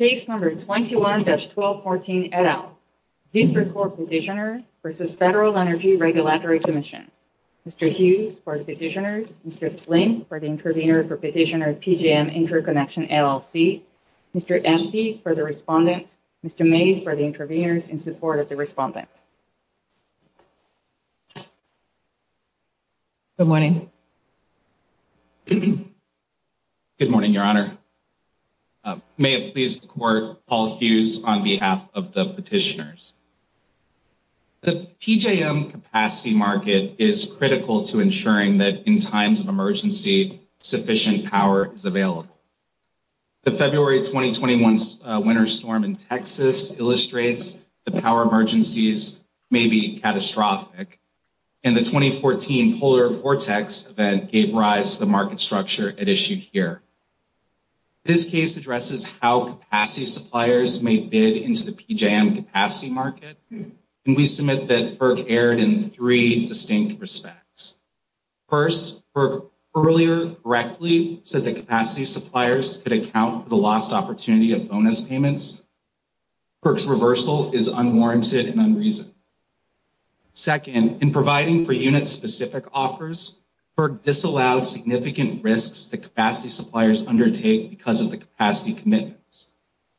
21-1214 et al., Vistra Corp. Petitioners v. Federal Energy Regulatory Commission, Mr. Hughes for the Petitioners, Mr. Flint for the Intervenors for Petitioners, PJM Interconnection LLC, Mr. Emcee for the Respondents, Mr. Mayes for the Intervenors in support of the Respondents. Good morning. Good morning, Your Honor. May it please the Court, Paul Hughes on behalf of the Petitioners. The PJM capacity market is critical to ensuring that, in times of emergency, sufficient power is available. The February 2021 winter storm in Texas illustrates the power emergencies may be catastrophic, and the 2014 Polar Vortex event gave rise to the market structure at issue here. This case addresses how capacity suppliers may bid into the PJM capacity market, and we submit that FERC erred in three distinct respects. First, FERC earlier correctly said that capacity suppliers could account for the lost opportunity of bonus payments. FERC's reversal is unwarranted and unreasonable. Second, in providing for unit-specific offers, FERC disallowed significant risks that capacity suppliers undertake because of the capacity commitments.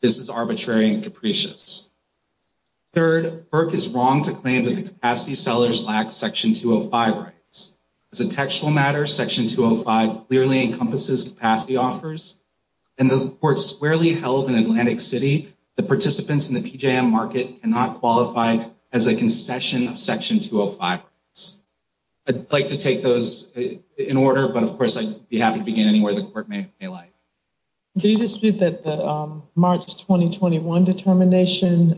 This is arbitrary and capricious. Third, FERC is wrong to claim that the capacity sellers lack Section 205 rights. As a textual matter, Section 205 clearly encompasses capacity offers, and the report squarely held in Atlantic City, the participants in the PJM market cannot qualify as a concession of Section 205 rights. I'd like to take those in order, but of course, I'd be happy to begin any way the court may like. Do you dispute that the March 2021 determination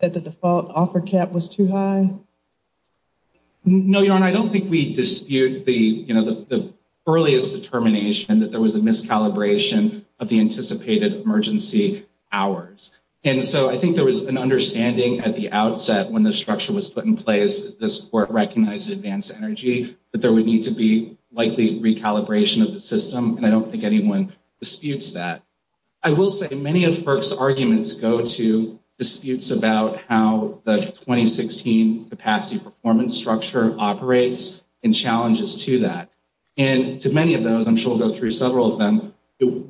that the default offer cap was too high? No, Your Honor, I don't think we dispute the earliest determination that there was a miscalibration of the anticipated emergency hours. And so I think there was an understanding at the outset when the structure was put in place that this court recognized advanced energy, that there would need to be likely recalibration of the system, and I don't think anyone disputes that. I will say many of FERC's arguments go to disputes about how the 2016 capacity performance structure operates and challenges to that. And to many of those, I'm sure we'll go through several of them,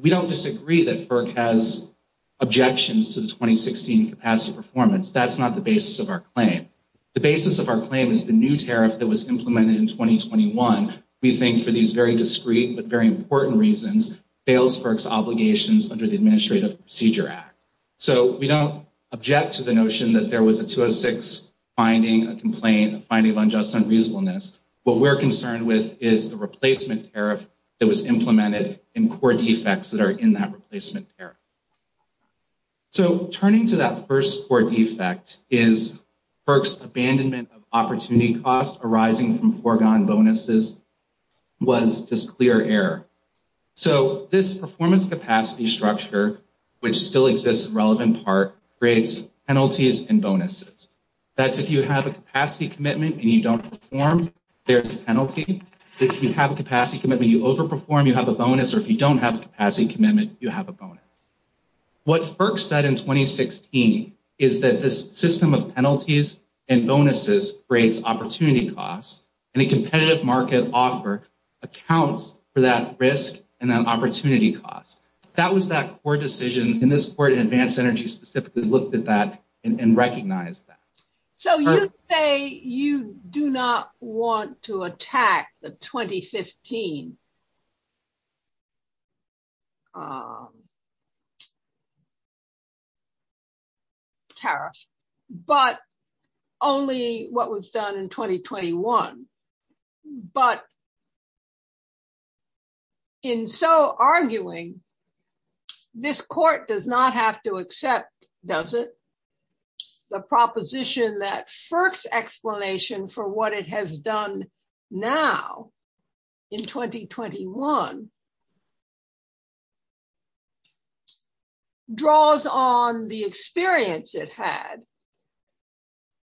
we don't disagree that FERC has objections to the 2016 capacity performance. That's not the basis of our claim. The basis of our claim is the new tariff that was implemented in 2021. We think for these very discrete, but very important reasons, fails FERC's obligations under the Administrative Procedure Act. So we don't object to the notion that there was a 206 finding, a complaint, a finding of unjust and reasonableness. What we're concerned with is the replacement tariff that was implemented in court defects that are in that replacement tariff. So turning to that first court defect is FERC's abandonment of opportunity costs arising from foregone bonuses was this clear error. So this performance capacity structure, which still exists in relevant part, creates penalties and bonuses. That's if you have a capacity commitment and you don't perform, there's a penalty. If you have a capacity commitment and you overperform, you have a bonus. Or if you don't have a capacity commitment, you have a bonus. What FERC said in 2016 is that this system of penalties and bonuses creates opportunity costs, and a competitive market offer accounts for that risk and that opportunity cost. That was that court decision. And this court in Advanced Energy specifically looked at that and recognized that. So you say you do not want to attack the 2015 tariff, but only what was done in 2021. But in so arguing, this court does not have to accept, does it, the proposition that FERC's explanation for what it has done now in 2021 draws on the experience it had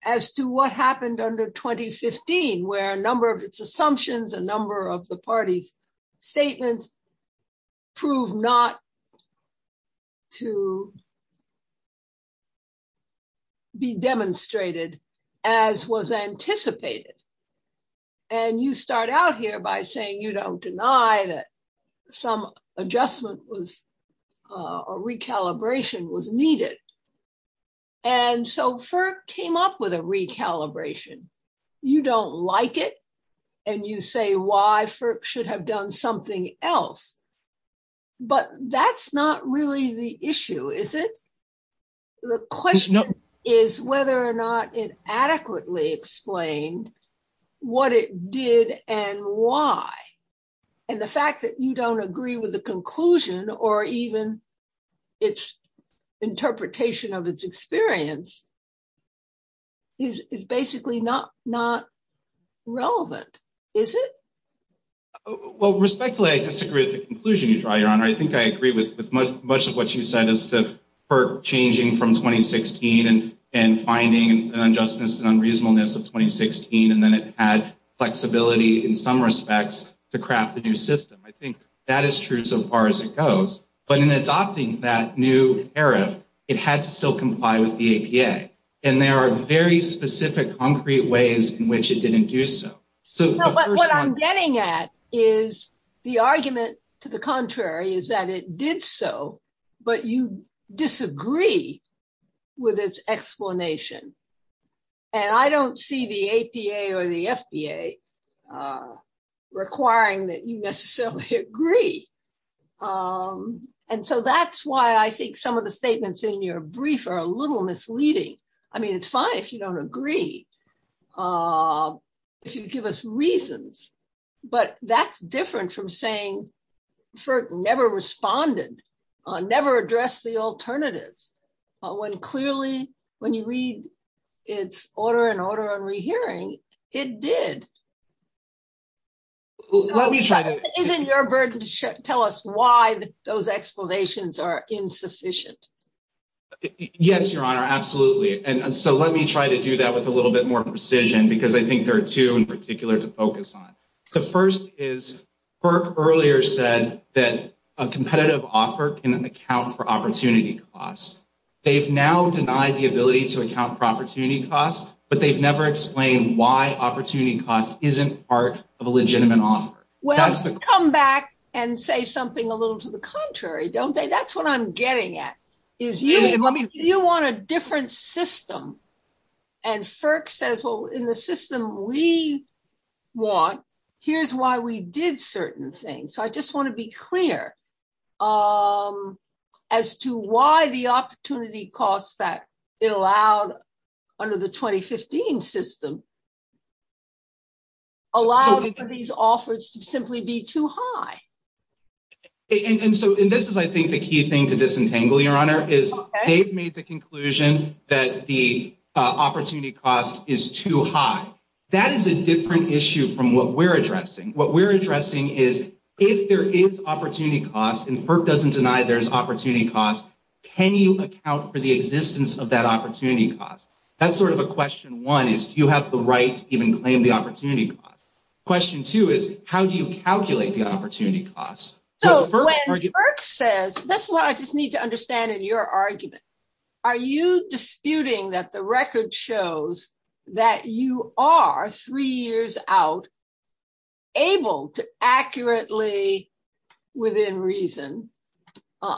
as to what there are a number of assumptions, a number of the party's statements prove not to be demonstrated as was anticipated. And you start out here by saying you don't deny that some adjustment or recalibration was needed. And so FERC came up with a recalibration. You don't like it, and you say why FERC should have done something else. But that's not really the issue, is it? The question is whether or not it adequately explained what it did and why. And the fact that you don't agree with the conclusion or even its interpretation of its experience is basically not relevant, is it? Well, respectfully, I disagree with the conclusion you draw, Your Honor. I think I agree with much of what you said is that FERC changing from 2016 and finding adjustments and unreasonableness of 2016, and then it had flexibility in some respects to craft a new system. I think that is true so far as it goes. But in adopting that new era, it had to still comply with the APA. And there are very specific, concrete ways in which it didn't do so. But what I'm getting at is the argument to the contrary is that it did so, but you disagree with its explanation. And I don't see the APA or the FBA requiring that you necessarily agree. And so that's why I think some of the statements in your brief are a little misleading. I mean, it's fine if you don't agree, if you give us reasons. But that's different from saying FERC never responded, never addressed the alternatives. But when clearly, when you read its order and order on rehearing, it did. Isn't your burden to tell us why those explanations are insufficient? Yes, Your Honor, absolutely. And so let me try to do that with a little bit more precision because I think there are two in particular to focus on. The first is FERC earlier said that a competitive offer can account for opportunity costs. They've now denied the ability to account for opportunity costs, but they've never explained why opportunity cost isn't part of a legitimate offer. Well, come back and say something a little to the contrary, don't they? That's what I'm getting at is you want a different system. And FERC says, well, in the system we want, here's why we did certain things. So I just want to be clear as to why the opportunity costs that it allowed under the 2015 system allow these offers to simply be too high. And so this is, I think, the key thing to disentangle, Your Honor, is they've made the opportunity cost is too high. That is a different issue from what we're addressing. What we're addressing is if there is opportunity cost and FERC doesn't deny there's opportunity cost, can you account for the existence of that opportunity cost? That's sort of a question one is do you have the right to even claim the opportunity cost? Question two is how do you calculate the opportunity cost? So when FERC says, that's what I just need to understand in your argument, are you disputing that the record shows that you are, three years out, able to accurately, within reason,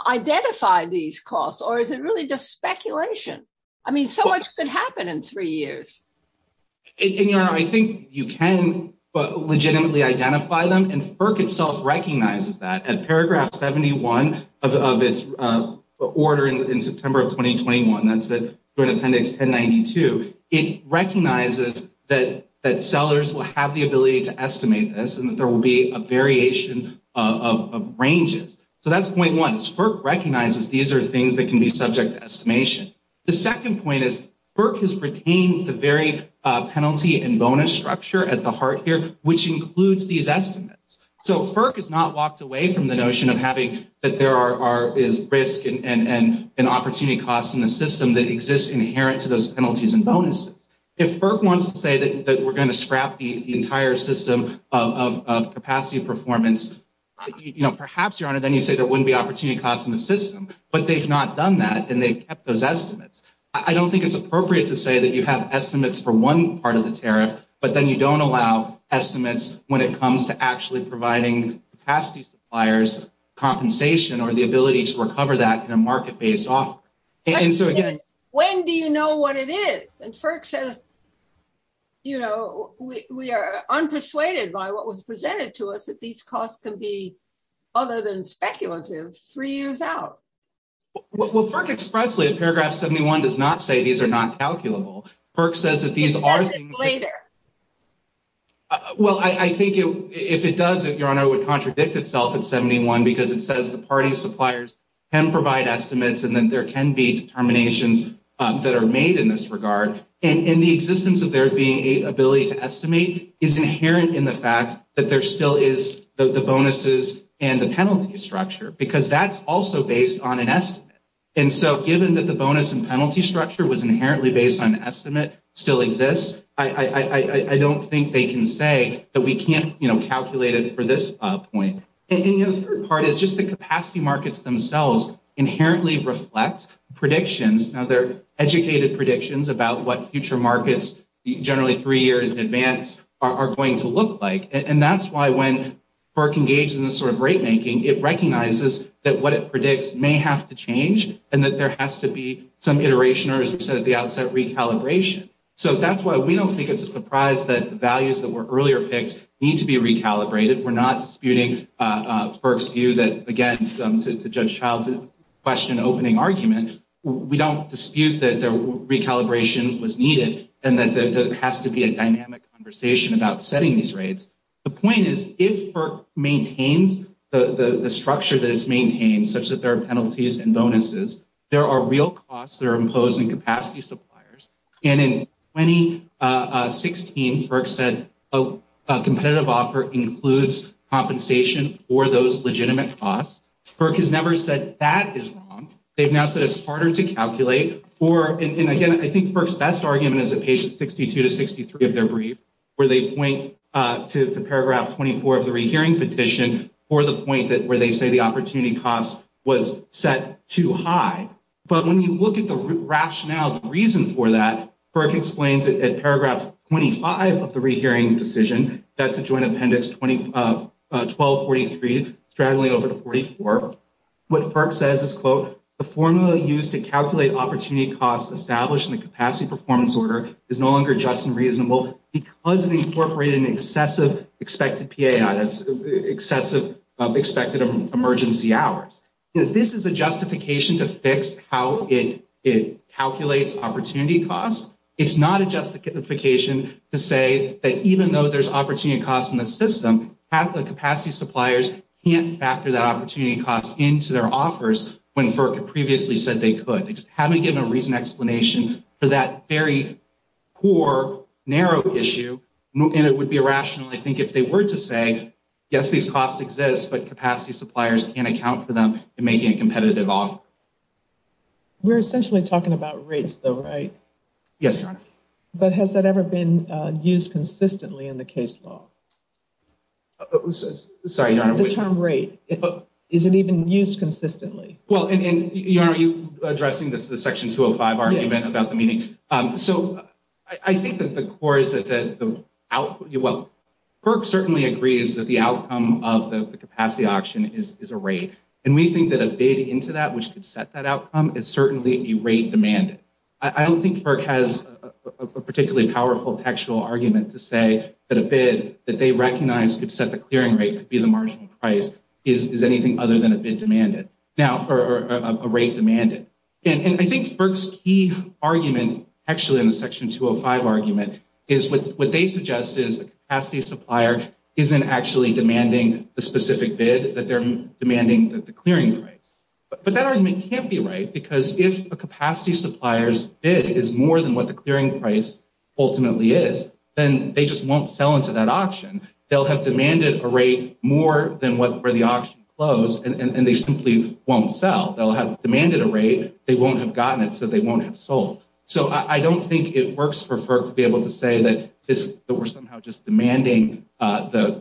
identify these costs? Or is it really just speculation? I mean, so much could happen in three years. Your Honor, I think you can legitimately identify them and FERC itself recognizes that. Paragraph 71 of its order in September of 2021, that's the appendix 1092, it recognizes that sellers will have the ability to estimate this and that there will be a variation of ranges. So that's point one. FERC recognizes these are things that can be subject to estimation. The second point is FERC has retained the very penalty and bonus structure at the heart here, which includes these estimates. So FERC has not walked away from the notion of having that there is risk and opportunity costs in the system that exist inherent to those penalties and bonuses. If FERC wants to say that we're going to scrap the entire system of capacity performance, perhaps, Your Honor, then you say there wouldn't be opportunity costs in the system, but they've not done that and they've kept those estimates. I don't think it's appropriate to say that you have estimates for one part of the tariff, but then you don't allow estimates when it comes to actually providing capacity suppliers compensation or the ability to recover that in a market-based off. When do you know what it is? And FERC says, you know, we are unpersuaded by what was presented to us that these costs can be, other than speculative, three years out. Well, FERC expressly in paragraph 71 does not say these are not calculable. FERC says that these are... Later. Well, I think if it does, if Your Honor, it would contradict itself in 71 because it says the party suppliers can provide estimates and that there can be determinations that are made in this regard. And the existence of there being an ability to estimate is inherent in the fact that there still is the bonuses and the penalty structure, because that's also based on an estimate. And so given that the bonus and penalty structure was inherently based on the estimate still exists, I don't think they can say that we can't, you know, calculate it for this point. And the third part is just the capacity markets themselves inherently reflect predictions. Now, they're educated predictions about what future markets, generally three years in advance, are going to look like. And that's why when FERC engages in this sort of rate making, it recognizes that what it has to change and that there has to be some iteration or the outset recalibration. So that's why we don't think it's a surprise that the values that were earlier picked need to be recalibrated. We're not disputing FERC's view that, again, to Judge Child's question, opening argument, we don't dispute that the recalibration was needed and that there has to be a dynamic conversation about setting these rates. The point is, if FERC maintains the structure that it's maintaining, such that there are penalties and bonuses, there are real costs that are imposed on capacity suppliers. And in 2016, FERC said a competitive offer includes compensation for those legitimate costs. FERC has never said that is wrong. They've now said it's harder to calculate for, and again, I think FERC's best argument is at page 62 to 63 of their brief, where they point to the paragraph 24 of the recurring petition for the point where they say the opportunity cost was set too high. But when you look at the rationale, the reason for that, FERC explains it at paragraph 25 of the re-hearing decision, that's the joint appendix 1243, straddling over to 44. What FERC says is, quote, the formula used to calculate opportunity costs established in the capacity performance order is no longer just and reasonable because it incorporated an excessive expected emergency hours. This is a justification to fix how it calculates opportunity costs. It's not a justification to say that even though there's opportunity costs in the system, half the capacity suppliers can't factor that opportunity cost into their offers when FERC previously said they could. They just haven't given a reasonable explanation for that very poor, narrow issue, and it would be irrational, I think, if they were to say, yes, these costs exist, but capacity suppliers can't account for them in making a competitive offer. We're essentially talking about rates, though, right? Yes. But has that ever been used consistently in the case law? Sorry, Your Honor. The term rate, is it even used consistently? Well, and Your Honor, you're addressing the Section 205 argument about the meaning. So I think that the core is that the output, well, FERC certainly agrees that the outcome of the capacity auction is a rate, and we think that a bid into that which could set that outcome is certainly a rate demanded. I don't think FERC has a particularly powerful textual argument to say that a bid that they recognize could set the clearing rate to be the marginal price is anything other than a bid demanded, or a rate demanded. And I think FERC's key argument, actually in the Section 205 argument, is what they suggest is the capacity supplier isn't actually demanding the specific bid, that they're demanding the clearing rate. But that argument can't be right, because if a capacity supplier's bid is more than what the clearing price ultimately is, then they just won't sell into that auction. They'll have demanded a rate more than where the auction closed, and they simply won't sell. They'll have demanded a rate, they won't have gotten it, so they won't have sold. So I don't think it works for FERC to be able to say that we're somehow just demanding the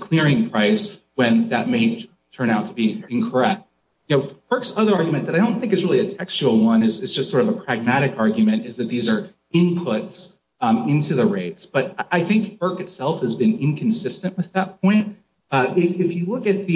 clearing price when that may turn out to be incorrect. FERC's other argument that I don't think is really a textual one, it's just sort of a pragmatic argument, is that these are inputs into the rates. But I think FERC itself has been inconsistent with that point. If you look at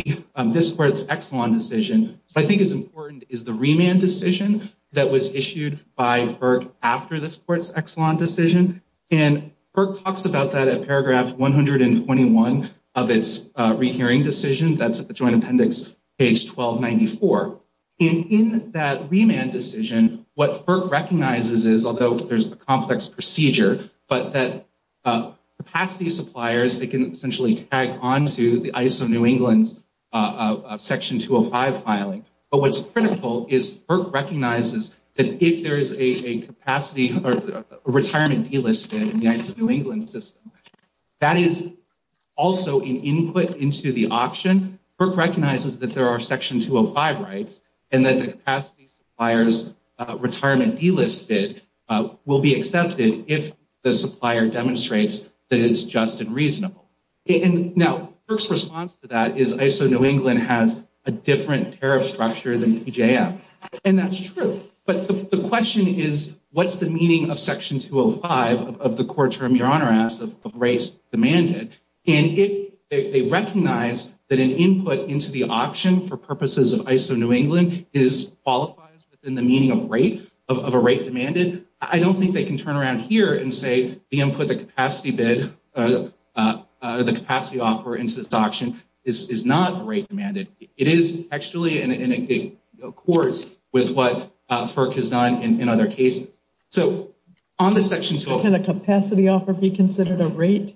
this court's Exelon decision, I think it's important is the remand decision that was issued by FERC after this court's Exelon decision. And FERC talks about that at paragraph 121 of its rehearing decision. That's at the Joint Appendix, page 1294. And in that remand decision, what FERC recognizes is, although there's a complex procedure, but that capacity suppliers, they can essentially tag on to the ISO New England section 205 filing. But what's critical is FERC recognizes that if there's a capacity or a retirement deal listing in the ISO New England system, that is also an input into the auction. FERC recognizes that there are section 205 rights, and that the capacity suppliers retirement deal list will be accepted if the supplier demonstrates that it's just and reasonable. And now, FERC's response to that is ISO New England has a different tariff structure than PJM. And that's true. But the question is, what's the meaning of section 205 of the court term you're honor of rights demanded? And if they recognize that an input into the auction for purposes of ISO New England qualifies within the meaning of a right demanded, I don't think they can turn around here and say, the input, the capacity bid, the capacity offer into this auction is not a right demanded. It is actually in accord with what FERC has done in other cases. So on the section 205... Can a capacity offer be considered a right?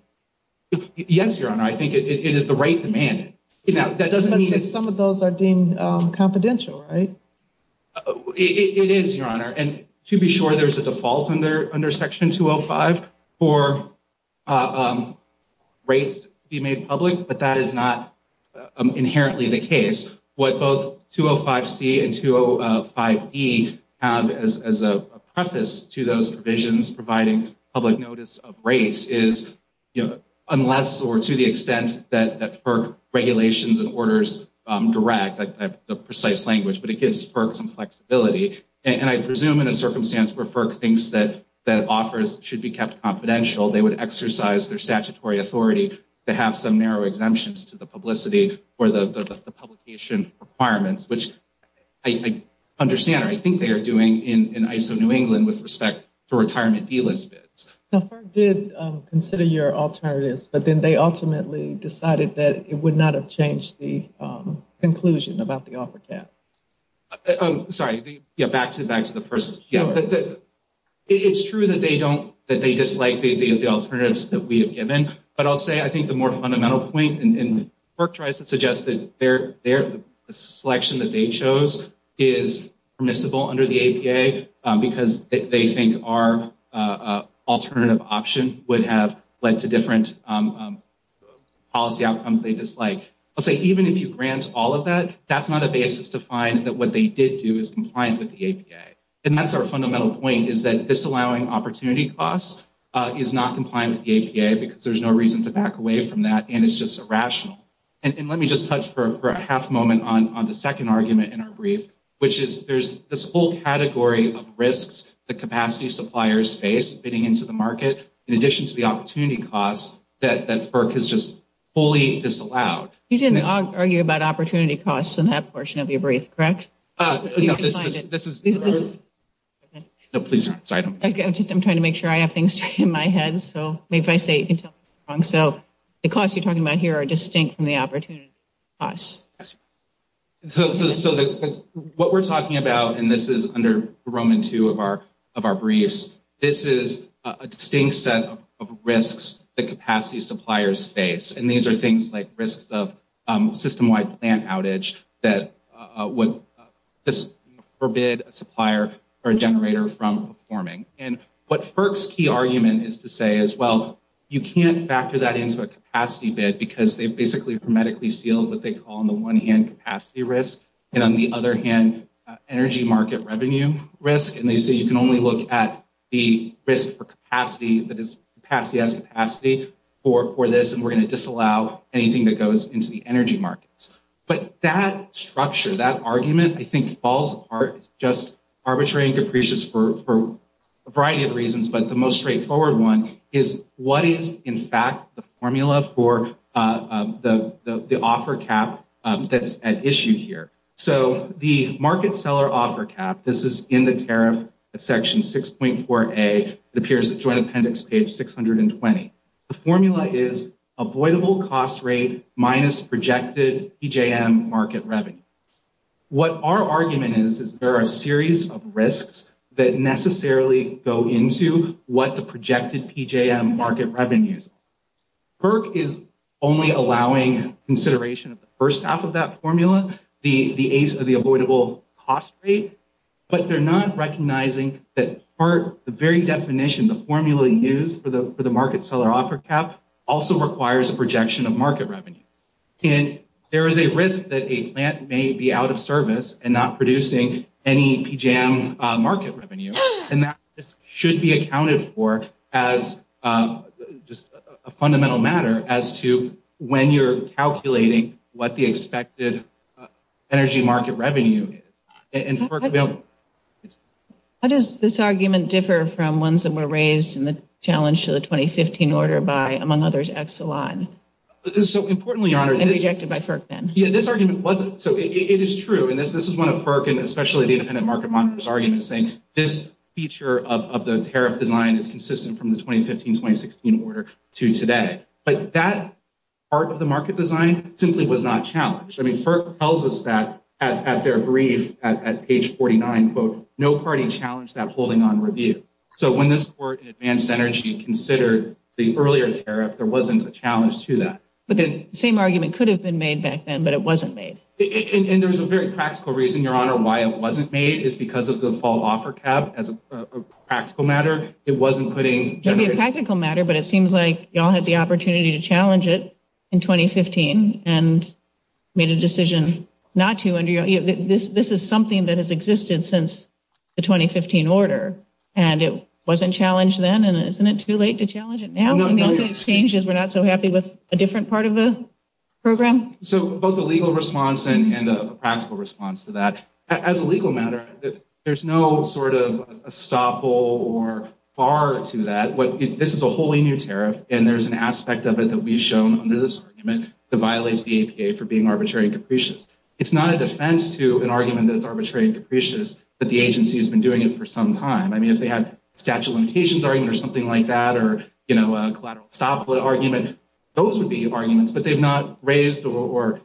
Yes, your honor. I think it is a right demanded. Now, that doesn't mean... Some of those are deemed confidential, right? It is, your honor. And to be sure, there's a default under section 205 for rights to be made public, but that is not inherently the case. What both 205C and 205E have as a preface to those provisions providing public notice of race is, unless or to the extent that FERC regulations and orders direct the precise language, but it gives FERC some flexibility. And I presume in a circumstance where FERC thinks that offers should be kept confidential, they would exercise their statutory authority to have some narrow exemptions to the publicity or the publication requirements, which I think, understand, I think they are doing in ISO New England with respect to retirement fee list bids. Now, FERC did consider your alternatives, but then they ultimately decided that it would not have changed the conclusion about the offer cap. Oh, sorry. Yeah, back to the first... Yeah, but it's true that they don't... That they dislike the alternatives that we have given, but I'll say I think the more they try to suggest that the selection that they chose is permissible under the APA because they think our alternative option would have led to different policy outcomes they dislike. I'll say even if you grant all of that, that's not a basis to find that what they did do is compliant with the APA. And that's our fundamental point is that disallowing opportunity costs is not compliant with the APA because there's no reason to back away from that and it's just irrational. And let me just touch for a half moment on the second argument in our brief, which is there's this whole category of risks that capacity suppliers face getting into the market in addition to the opportunity costs that FERC has just fully disallowed. You didn't argue about opportunity costs in that portion of your brief, correct? No, this is... No, please. Sorry. I'm trying to make sure I have things in my head. So the costs you're talking about here are distinct from the opportunity costs. So what we're talking about, and this is under Roman 2 of our briefs, this is a distinct set of risks that capacity suppliers face. And these are things like risks of system-wide plant outage that would forbid a supplier or a generator from performing. And what FERC's key argument is to say is, well, you can't factor that into a capacity bid because they've basically hermetically sealed what they call on the one hand capacity risk and on the other hand energy market revenue risk. And they say you can only look at the risk for capacity, but it's capacity as capacity for this and we're going to disallow anything that goes into the energy markets. But that structure, that argument, I think falls apart. It's just arbitrary and capricious for a variety of reasons, but the most straightforward one is what is, in fact, the formula for the offer cap that's at issue here. So the market seller offer cap, this is in the tariff section 6.4A. It appears in the Joint Appendix page 620. The formula is avoidable cost rate minus projected PJM market revenue. What our argument is, is there are a series of risks that necessarily go into what the projected PJM market revenue is. FERC is only allowing consideration of the first half of that formula, the avoidable cost rate, but they're not recognizing that the very definition, the formula used for the market seller offer cap also requires a projection of market revenue. There is a risk that a plant may be out of service and not producing any PJM market revenue and that should be accounted for as a fundamental matter as to when you're calculating what the expected energy market revenue is. How does this argument differ from ones that were raised in the challenge to the 2015 order by, among others, Exelon? This is so importantly, Your Honor. And rejected by FERC then. Yeah, this argument wasn't, so it is true and this is one of FERC and especially the defendant market monitor's arguments saying this feature of the tariff design is consistent from the 2015-2016 order to today. But that part of the market design simply was not challenged. I mean, FERC tells us that at their brief at page 49, quote, no party challenged that holding on review. So when this court in advanced energy considered the earlier tariff, there wasn't a challenge to that. But the same argument could have been made back then, but it wasn't made. And there's a very practical reason, Your Honor, why it wasn't made. It's because of the fall offer cap as a practical matter. It wasn't putting... It could be a practical matter, but it seems like y'all had the opportunity to challenge it in 2015 and made a decision not to. This is something that has existed since the 2015 order and it wasn't challenged then and isn't it too late to challenge it now? We're not so happy with a different part of the program? So both the legal response and the practical response to that. As a legal matter, there's no sort of a stop hole or bar to that. This is a wholly new tariff and there's an aspect of it that we've shown under this argument to violate the APA for being arbitrary and capricious. It's not a defense to an argument that it's arbitrary and capricious, but the agency has been doing it for some time. I mean, if they had a statute of limitations argument or something like that or a collateral stop argument, those would be arguments, but they've not raised or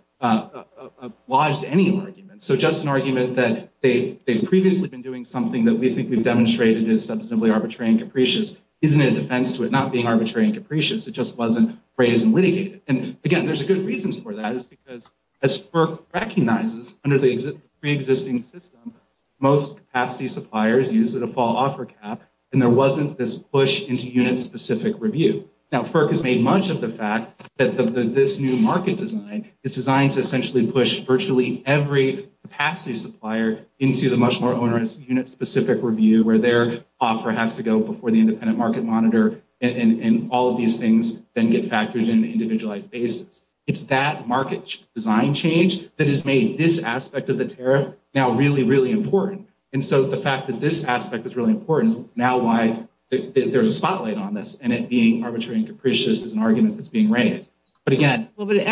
lodged any arguments. So just an argument that they've previously been doing something that we think they've demonstrated is substantively arbitrary and capricious isn't a defense to it not being arbitrary and capricious. It just wasn't raised and litigated. And again, there's a good reason for that. It's because as FERC recognizes under the pre-existing system, most capacity suppliers use a default offer cap and there wasn't this push into unit-specific review. Now, FERC has made much of the fact that this new market design is designed to essentially push virtually every capacity supplier into the much more owner-specific unit-specific review where their offer has to go before the independent market monitor and all of these things then get factored into individualized basis. It's that market design change that has made this aspect of the tariff now really, really important. And so the fact that this aspect is really important, now why is there a spotlight on this and it being arbitrary and capricious is an argument that's being raised. But again... Well, but if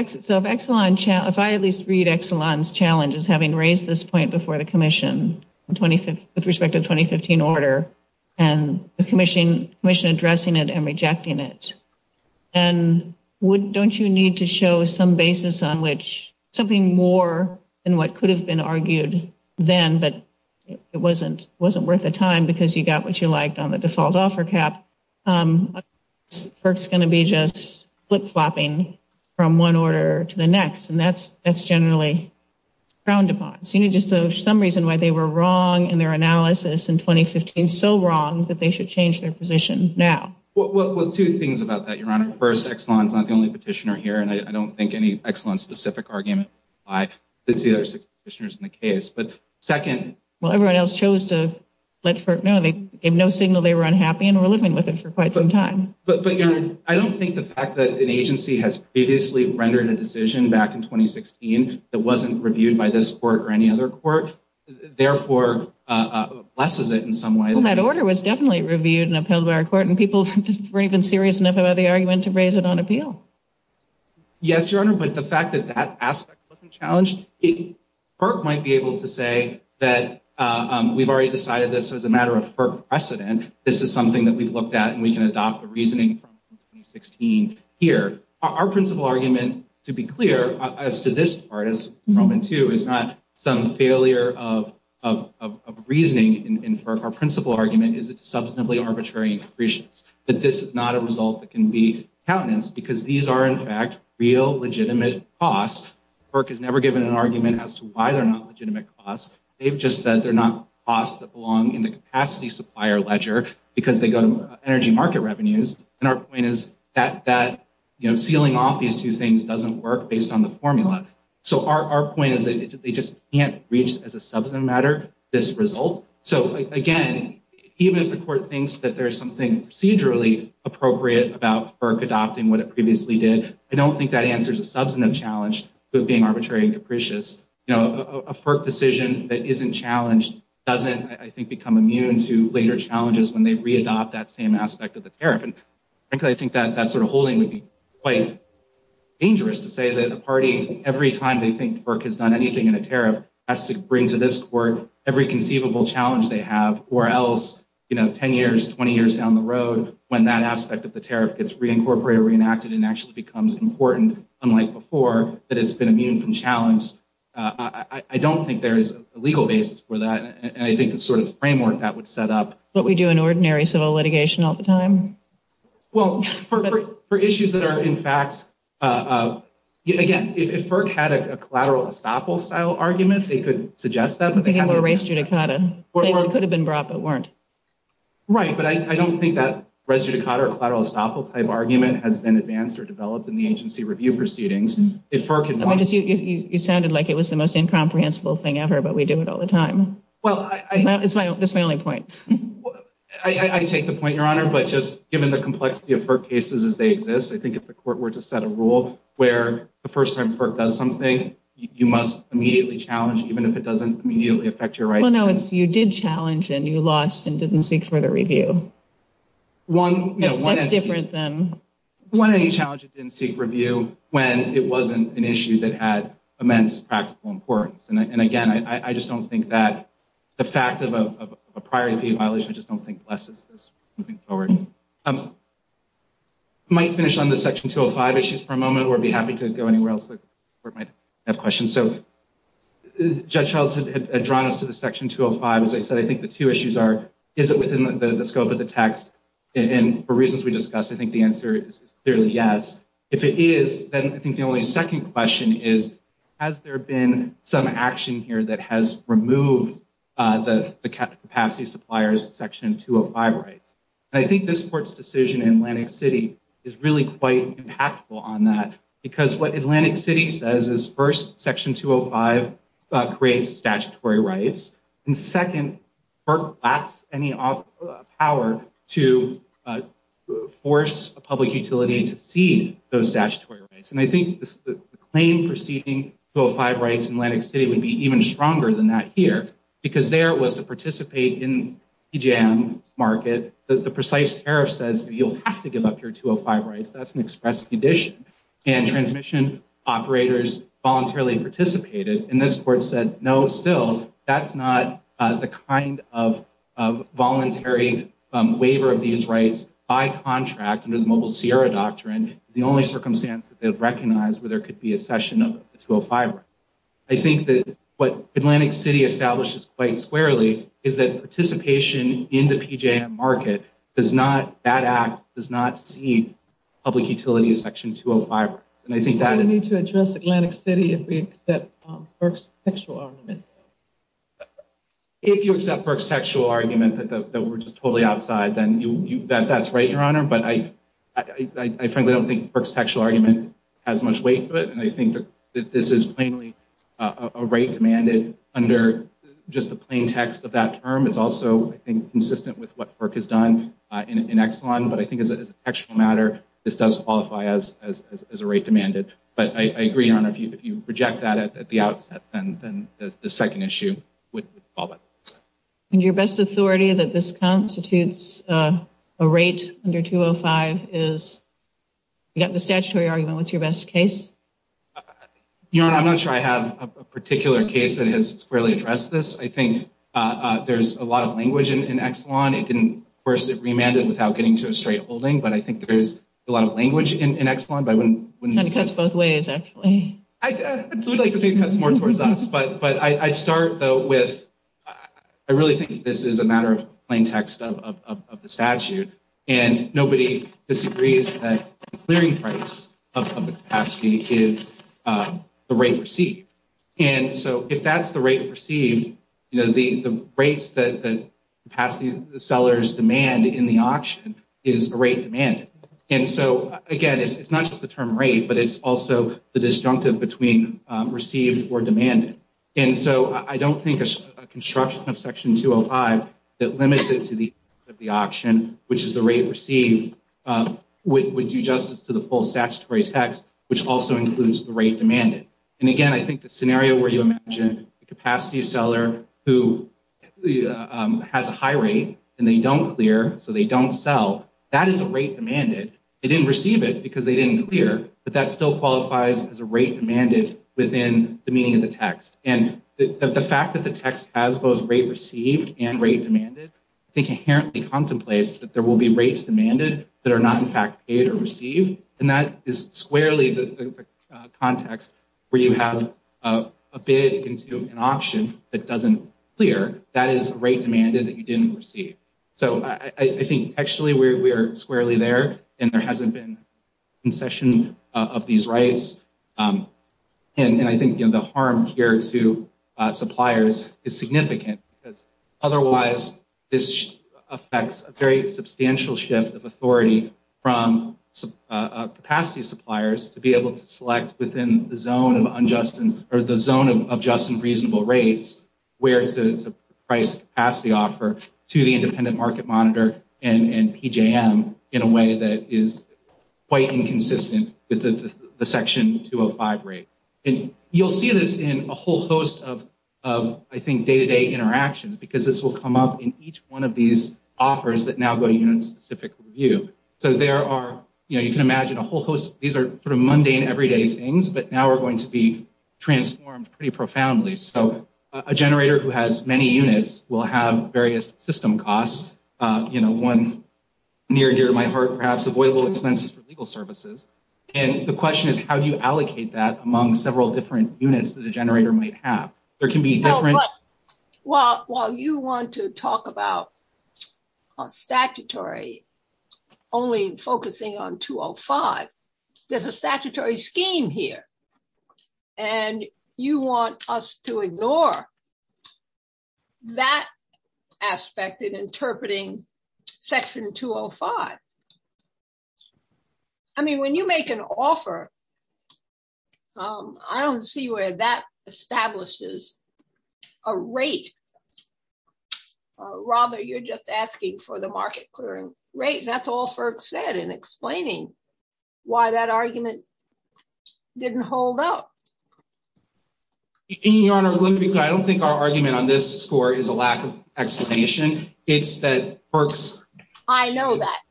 I at least read Exelon's challenge as having raised this point before the commission with respect to the 2015 order and the commission addressing it and rejecting it, and don't you need to show some basis on which something more than what could have been argued then but it wasn't worth the time because you got what you liked on the default offer cap, FERC's going to be just flip-flopping from one order to the next and that's generally frowned upon. So you need to show some reason why they were wrong in their analysis in 2015, so wrong that they should change their position now. Well, two things about that, Your Honor. First, Exelon's not the only petitioner here and I don't think any Exelon-specific argument applies to the other six petitioners in the case. But second... Well, everyone else chose to let FERC know. They gave no signal they were unhappy and were living with it for quite some time. But Your Honor, I don't think the fact that an agency has previously rendered a decision back in 2016 that wasn't reviewed by this court or any other court, therefore blesses it in some way. Well, that order was definitely reviewed in a preliminary court and people were even serious enough about the argument to raise it on appeal. Yes, Your Honor. But the fact that that aspect wasn't challenged, FERC might be able to say that we've already decided this as a matter of FERC precedent. This is something that we've looked at and we can adopt the reasoning from 2016 here. Our principal argument, to be clear, as to this part, is not some failure of reasoning in FERC. Our principal argument is it's substantively arbitrary and capricious. But this is not a result that can be challenged because these are, in fact, real legitimate costs. FERC has never given an argument as to why they're not legitimate costs. They've just said they're not costs that belong in the capacity supplier ledger because they go to energy market revenues. And our point is that sealing off these two things doesn't work based on the formula. So our point is they just can't reach, as a substantive matter, this result. So, again, even if the court thinks that there's something procedurally appropriate about FERC adopting what it previously did, I don't think that answers the substantive challenge of being arbitrary and capricious. A FERC decision that isn't challenged doesn't, I think, become immune to later challenges when they readopt that same aspect of the tariff. And frankly, I think that sort of holding would be quite dangerous to say that the party, every time they think FERC has done anything in a tariff, has to bring to this court every conceivable challenge they have, or else 10 years, 20 years down the road, when that aspect of the tariff gets reincorporated, reenacted, and actually becomes important, unlike before, that it's going to be challenged. I don't think there's a legal basis for that. And I think the sort of framework that would set up- But we do an ordinary civil litigation all the time? Well, for issues that are, in fact, again, if FERC had a collateral estoppel style argument, they could suggest that. They have a res judicata. They could have been brought, but weren't. Right, but I don't think that res judicata or collateral estoppel type argument has been advanced or developed in the agency review proceedings. You sounded like it was the most incomprehensible thing ever, but we do it all the time. That's my only point. I take the point, Your Honor, but just given the complexity of FERC cases as they exist, I think if the court were to set a rule where the first time FERC does something, you must immediately challenge, even if it doesn't immediately affect your rights. Well, no, you did challenge, and you lost, and didn't seek further review. That's different than- One of the challenges is in seek review when it wasn't an issue that had immense practical importance. And again, I just don't think that the fact of a prior to be abolished, I just don't think less is just moving forward. I might finish on the Section 205 issues for a moment, or be happy to go anywhere else where I might have questions. Judge Heltz had drawn us to the Section 205. As I said, I think the two issues are, is it within the scope of the text? And for reasons we discussed, I think the answer is clearly yes. If it is, then I think the only second question is, has there been some action here that has removed the capacity suppliers Section 205 rights? And I think this court's decision in Atlantic City is really quite impactful on that, because what Atlantic City says is, first, Section 205 creates statutory rights. And second, that's any power to force a public utility to see those statutory rights. And I think the claim for seeking 205 rights in Atlantic City would be even stronger than that here, because there was the participate in PJM market. The precise tariff says that you'll have to give up your 205 rights. That's an express condition. And transmission operators voluntarily participated. And this court said, no, still, that's not the kind of voluntary waiver of these rights by contract in the Mobile Sierra Doctrine. It's the only circumstance that they've recognized where there could be accession of 205 rights. I think that what Atlantic City establishes quite squarely is that participation in the public utility is Section 205. And I think that is... I need to address Atlantic City if we accept Burke's sexual argument. If you accept Burke's sexual argument that we're just totally outside, then that's right, Your Honor. But I frankly don't think Burke's sexual argument has much weight to it. And I think that this is plainly a right commanded under just the plain text of that term. It's also, I think, consistent with what Burke has done in Exxon. But I think as a textual matter, this does qualify as a right demanded. But I agree, Your Honor, if you reject that at the outset, then the second issue would fall by itself. And your best authority that this constitutes a right under 205 is... You got the statutory argument. What's your best case? Your Honor, I'm not sure I have a particular case that has squarely addressed this. I think there's a lot of language in Exxon. Of course, it remanded without getting to a straight holding. But I think there's a lot of language in Exxon. It cuts both ways, actually. I'd like to think it cuts more towards us. But I'd start, though, with... I really think this is a matter of plain text of the statute. And nobody disagrees that the clearing price of capacity is the rate received. And so if that's the rate received, the rates that capacity sellers demand in the auction is the rate demanded. And so, again, it's not just the term rate, but it's also the disjunctive between received or demanded. And so I don't think a construction of Section 205 that limits it to the rate of the auction, which is the rate received, would do justice to the full statutory text, which also includes the rate demanded. And, again, I think the scenario where you mentioned the capacity seller who has a high rate and they don't clear, so they don't sell, that is a rate demanded. They didn't receive it because they didn't clear, but that still qualifies as a rate demanded within the meaning of the text. And the fact that the text has both rate received and rate demanded, I think inherently contemplates that there will be rates demanded that are not, in fact, paid or received. And that is squarely the context where you have a bid into an auction that doesn't clear. That is a rate demanded that you didn't receive. So I think actually we are squarely there and there hasn't been concession of these rights. And I think, again, the harm here to suppliers is significant. Otherwise, this affects a very substantial shift of authority from capacity suppliers to be able to select within the zone of unjust and reasonable rates where the price capacity offer to the independent market monitor and PJM in a way that is quite inconsistent with the Section 205 rate. And you'll see this in a whole host of, I think, day-to-day interactions because this will come up in each one of these offers that now go unit-specific review. So there are, you know, you can imagine a whole host. These are sort of mundane, everyday things, but now we're going to be transformed pretty profoundly. So a generator who has many units will have various system costs. You know, one near and dear to my heart, perhaps, avoidable expenses for legal services. And the question is, how do you allocate that among several different units that a generator might have? There can be different- Well, while you want to talk about a statutory only focusing on 205, there's a statutory scheme here. And you want us to ignore that aspect in interpreting Section 205. I mean, when you make an offer, I don't see where that establishes a rate. Rather, you're just asking for the market clearing rate. That's all FERC said in explaining why that argument didn't hold up. Your Honor, I don't think our argument on this score is a lack of explanation. It's that FERC's- I know that.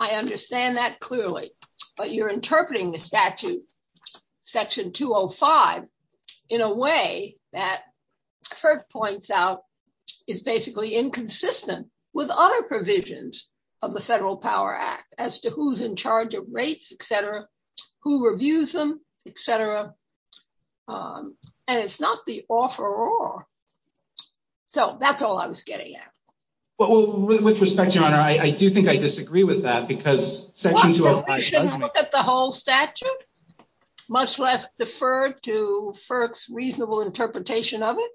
I understand that clearly. But you're interpreting the statute, Section 205, in a way that FERC points out is basically inconsistent with other provisions of the Federal Power Act as to who's in charge of rates, et cetera, who reviews them, et cetera. And it's not the offeror. So that's all I was getting at. Well, with respect, Your Honor, I do think I disagree with that because Section 205- Well, we shouldn't look at the whole statute, much less defer to FERC's reasonable interpretation of it.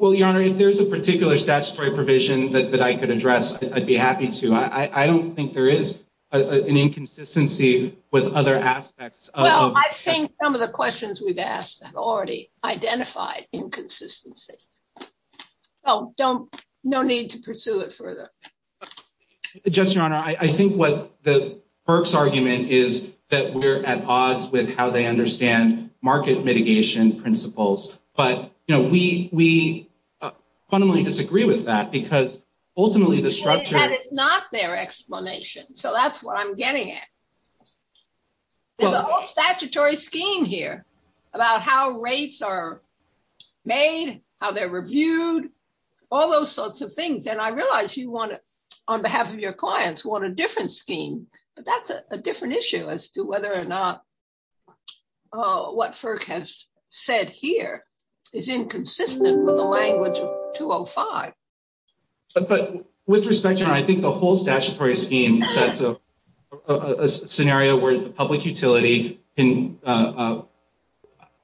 Well, Your Honor, if there's a particular statutory provision that I could address, I'd be happy to. I don't think there is an inconsistency with other aspects of- No, I think some of the questions we've asked have already identified inconsistency. So no need to pursue it further. Judge, Your Honor, I think what the FERC's argument is that we're at odds with how they understand market mitigation principles. But we fundamentally disagree with that because ultimately the structure- And it's not their explanation. So that's what I'm getting at. There's a whole statutory scheme here about how rates are made, how they're reviewed, all those sorts of things. And I realize you want to, on behalf of your clients, want a different scheme. But that's a different issue as to whether or not what FERC has said here is inconsistent with the language of 205. With respect, Your Honor, I think the whole statutory scheme is a scenario where the public utility can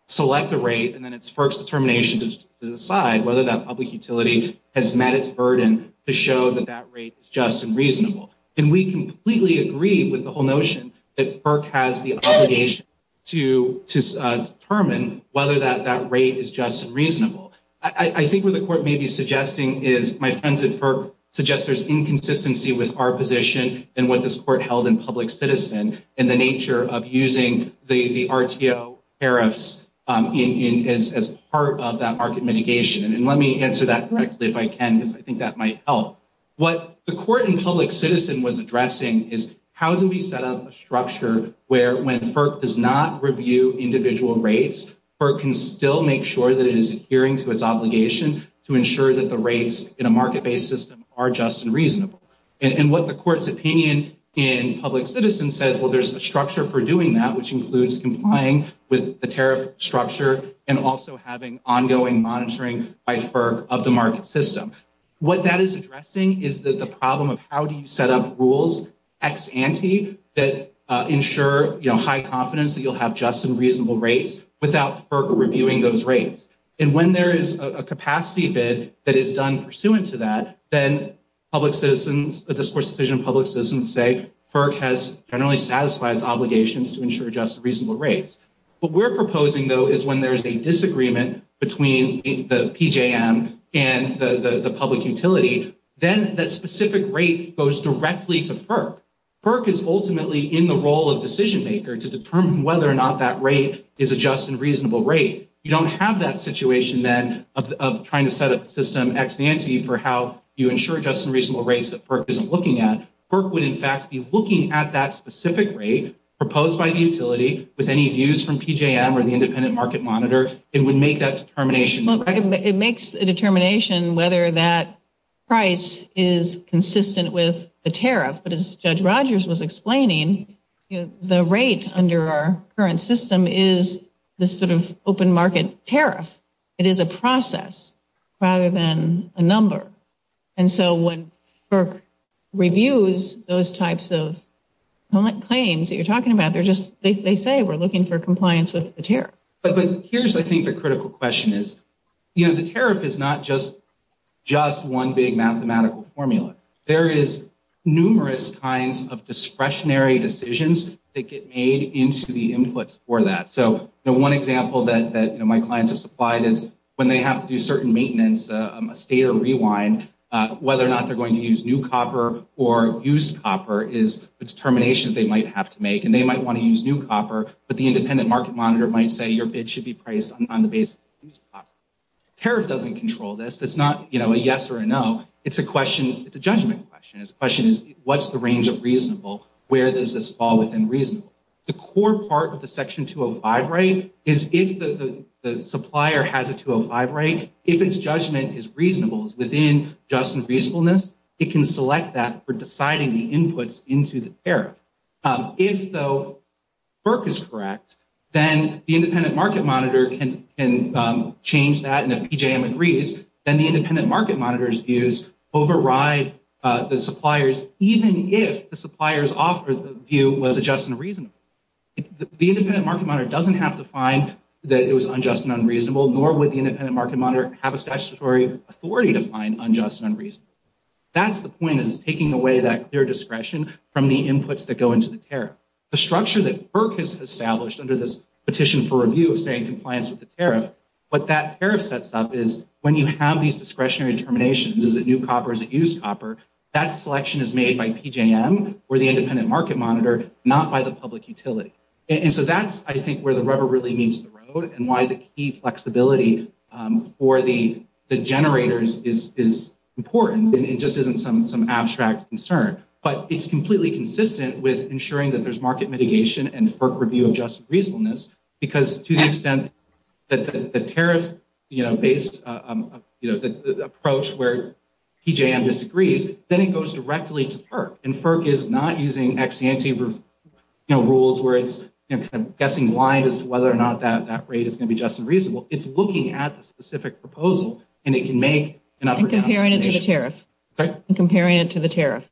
select a rate and then it's FERC's determination to decide whether that public utility has met its burden to show that that rate is just and reasonable. And we completely agree with the whole notion that FERC has the obligation to determine whether that rate is just and reasonable. I think what the court may be suggesting is my sense that FERC suggests there's inconsistency with our position and what this court held in public citizen in the nature of using the RTO tariffs as part of that market mitigation. And let me answer that directly if I can because I think that might help. What the court in public citizen was addressing is how do we set up a structure where when FERC does not review individual rates, FERC can still make sure that it is adhering to its obligation to ensure that the rates in a market-based system are just and reasonable. And what the court's opinion in public citizen said, well, there's a structure for doing that, which includes complying with the tariff structure and also having ongoing monitoring by FERC of the market system. What that is addressing is that the problem of how do you set up rules ex ante that ensure, you know, with high confidence that you'll have just and reasonable rates without FERC reviewing those rates. And when there is a capacity bid that is done pursuant to that, then public citizens, this court's decision in public citizen say FERC has generally satisfied obligations to ensure just and reasonable rates. What we're proposing, though, is when there's a disagreement between the PJM and the public utility, then that specific rate goes directly to FERC. FERC is ultimately in the role of decision-maker to determine whether or not that rate is a just and reasonable rate. You don't have that situation, then, of trying to set up a system ex ante for how you ensure just and reasonable rates that FERC isn't looking at. FERC would, in fact, be looking at that specific rate proposed by the utility with any views from PJM or the independent market monitor. It would make that determination. It makes a determination whether that price is consistent with the tariff. But as Judge Rogers was explaining, the rate under our current system is this sort of open market tariff. It is a process rather than a number. And so when FERC reviews those types of claims that you're talking about, they say we're looking for compliance with the tariff. But here's, I think, the critical question is the tariff is not just one big mathematical formula. There is numerous kinds of discretionary decisions that get made into the input for that. So the one example that my clients have supplied is when they have to do certain maintenance, a state of rewind, whether or not they're going to use new copper or used copper is determinations they might have to make. And they might want to use new copper. But the independent market monitor might say your bid should be priced on the basis of new copper. Tariff doesn't control this. It's not, you know, a yes or a no. It's a question, it's a judgment question. It's a question, what's the range of reasonable? Where does this fall within reasonable? The core part of the Section 205 right is if the supplier has a 205 right, if its judgment is reasonable, is within just and reasonableness, it can select that for deciding the inputs into the tariff. If, though, FERC is correct, then the independent market monitor can change that and if PJM agrees, then the independent market monitor's views override the supplier's, even if the supplier's view was just and reasonable. The independent market monitor doesn't have to find that it was unjust and unreasonable, nor would the independent market monitor have a statutory authority to find unjust and unreasonable. That's the point of taking away that clear discretion from the inputs that go into the tariff. The structure that FERC has established under this petition for review of staying compliant with the tariff, what that tariff sets up is when you have these discretionary determinations, is it new copper, is it used copper, that selection is made by PJM or the independent market monitor, not by the public utility. And so that's, I think, where the rubber really meets the road and why the key flexibility for the generators is important. It just isn't some abstract concern. But it's completely consistent with ensuring that there's market mitigation and FERC review of just and reasonableness because to the extent that the tariff-based approach where PJM disagrees, then it goes directly to FERC. And FERC is not using ex ante rules where it's guessing why, whether or not that rate is going to be just and reasonable. It's looking at the specific proposal and it can make an up or down decision. And comparing it to the tariff.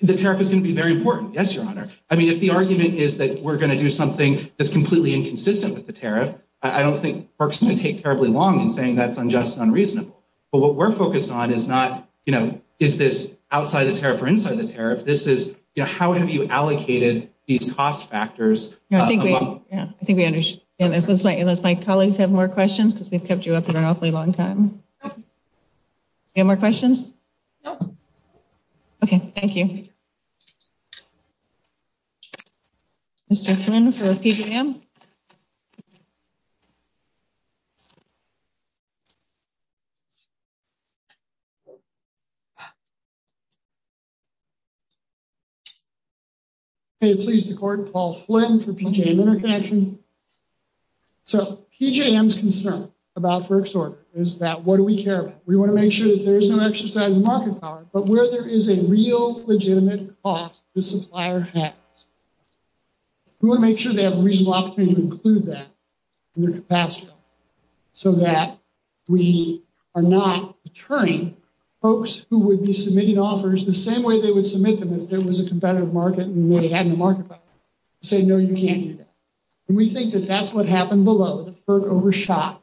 The tariff is going to be very important, yes, Your Honor. I mean, if the argument is that we're going to do something that's completely inconsistent with the tariff, I don't think FERC's going to take terribly long in saying that's unjust and unreasonable. But what we're focused on is not, you know, is this outside the tariff or inside the tariff? This is, you know, how have you allocated these cost factors? I think we understand. Unless my colleagues have more questions because we've kept you up for an awfully long time. You have more questions? No. Okay, thank you. Thank you. Mr. Flynn for PJM? Please record Paul Flynn for PJM Interconnection. So PJM's concern about FERC SOAR is that what do we care about? We want to make sure that there is no exercise in market power. But where there is a real legitimate cost, the supplier has. We want to make sure they have a reasonable opportunity to include that in their capacity so that we are not deterring folks who would be submitting offers the same way they would submit them if there was a competitive market and they had no market power. Say, no, you can't do that. And we think that that's what happened below. FERC overshot.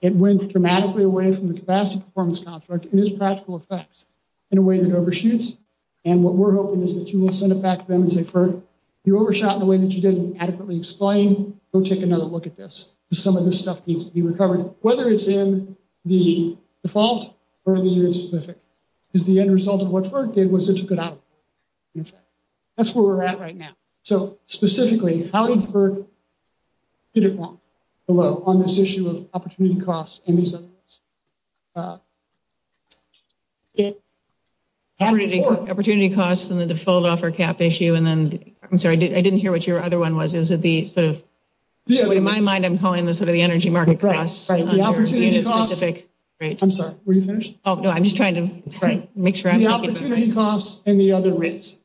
It went dramatically away from the capacity performance contract. It has practical effects in a way that overshoots. And what we're hoping is that you will send it back to them and say, FERC, you overshot in a way that you didn't adequately explain. Go take another look at this. Some of this stuff needs to be recovered, whether it's in the default or the unit specific. Because the end result of what FERC did was such a good outcome. That's where we're at right now. So, specifically, how did FERC get it wrong on this issue of opportunity costs? Opportunity costs and the default offer cap issue. I'm sorry. I didn't hear what your other one was. In my mind, I'm calling this the energy market costs. The opportunity costs. I'm sorry. Were you finished? No, I'm just trying to make sure. The opportunity costs and the other rates.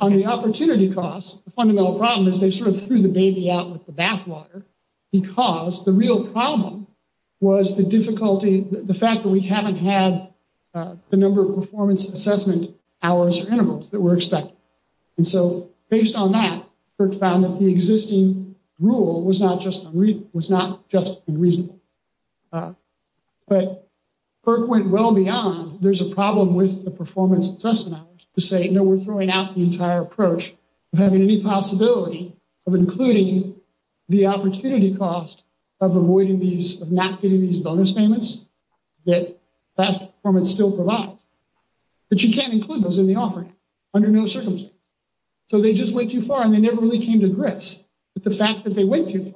On the opportunity costs, the fundamental problem is they sort of threw the baby out with the bathwater because the real problem was the difficulty, the fact that we haven't had the number of performance assessment hours or intervals that were expected. And so, based on that, FERC found that the existing rule was not just unreasonable. But FERC went well beyond. There's a problem with the performance assessment to say, you know, we're throwing out the entire approach of having any possibility of including the opportunity cost of avoiding these, of not getting these bonus payments that performance still provides. But you can't include those in the offering under no circumstances. So, they just went too far and they never really came to grips with the fact that they went too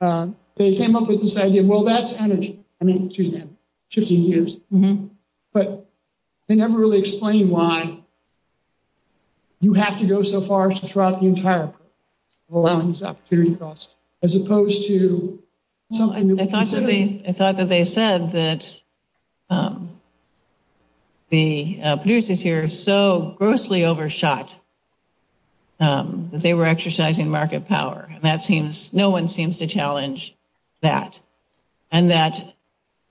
far. They came up with this idea. Well, that's energy. I mean, excuse me. It took me years. But they never really explained why you have to go so far to throw out the entire allowance opportunity cost as opposed to something. I thought that they said that the producers here so grossly overshot that they were exercising market power. And that seems, no one seems to challenge that. And that,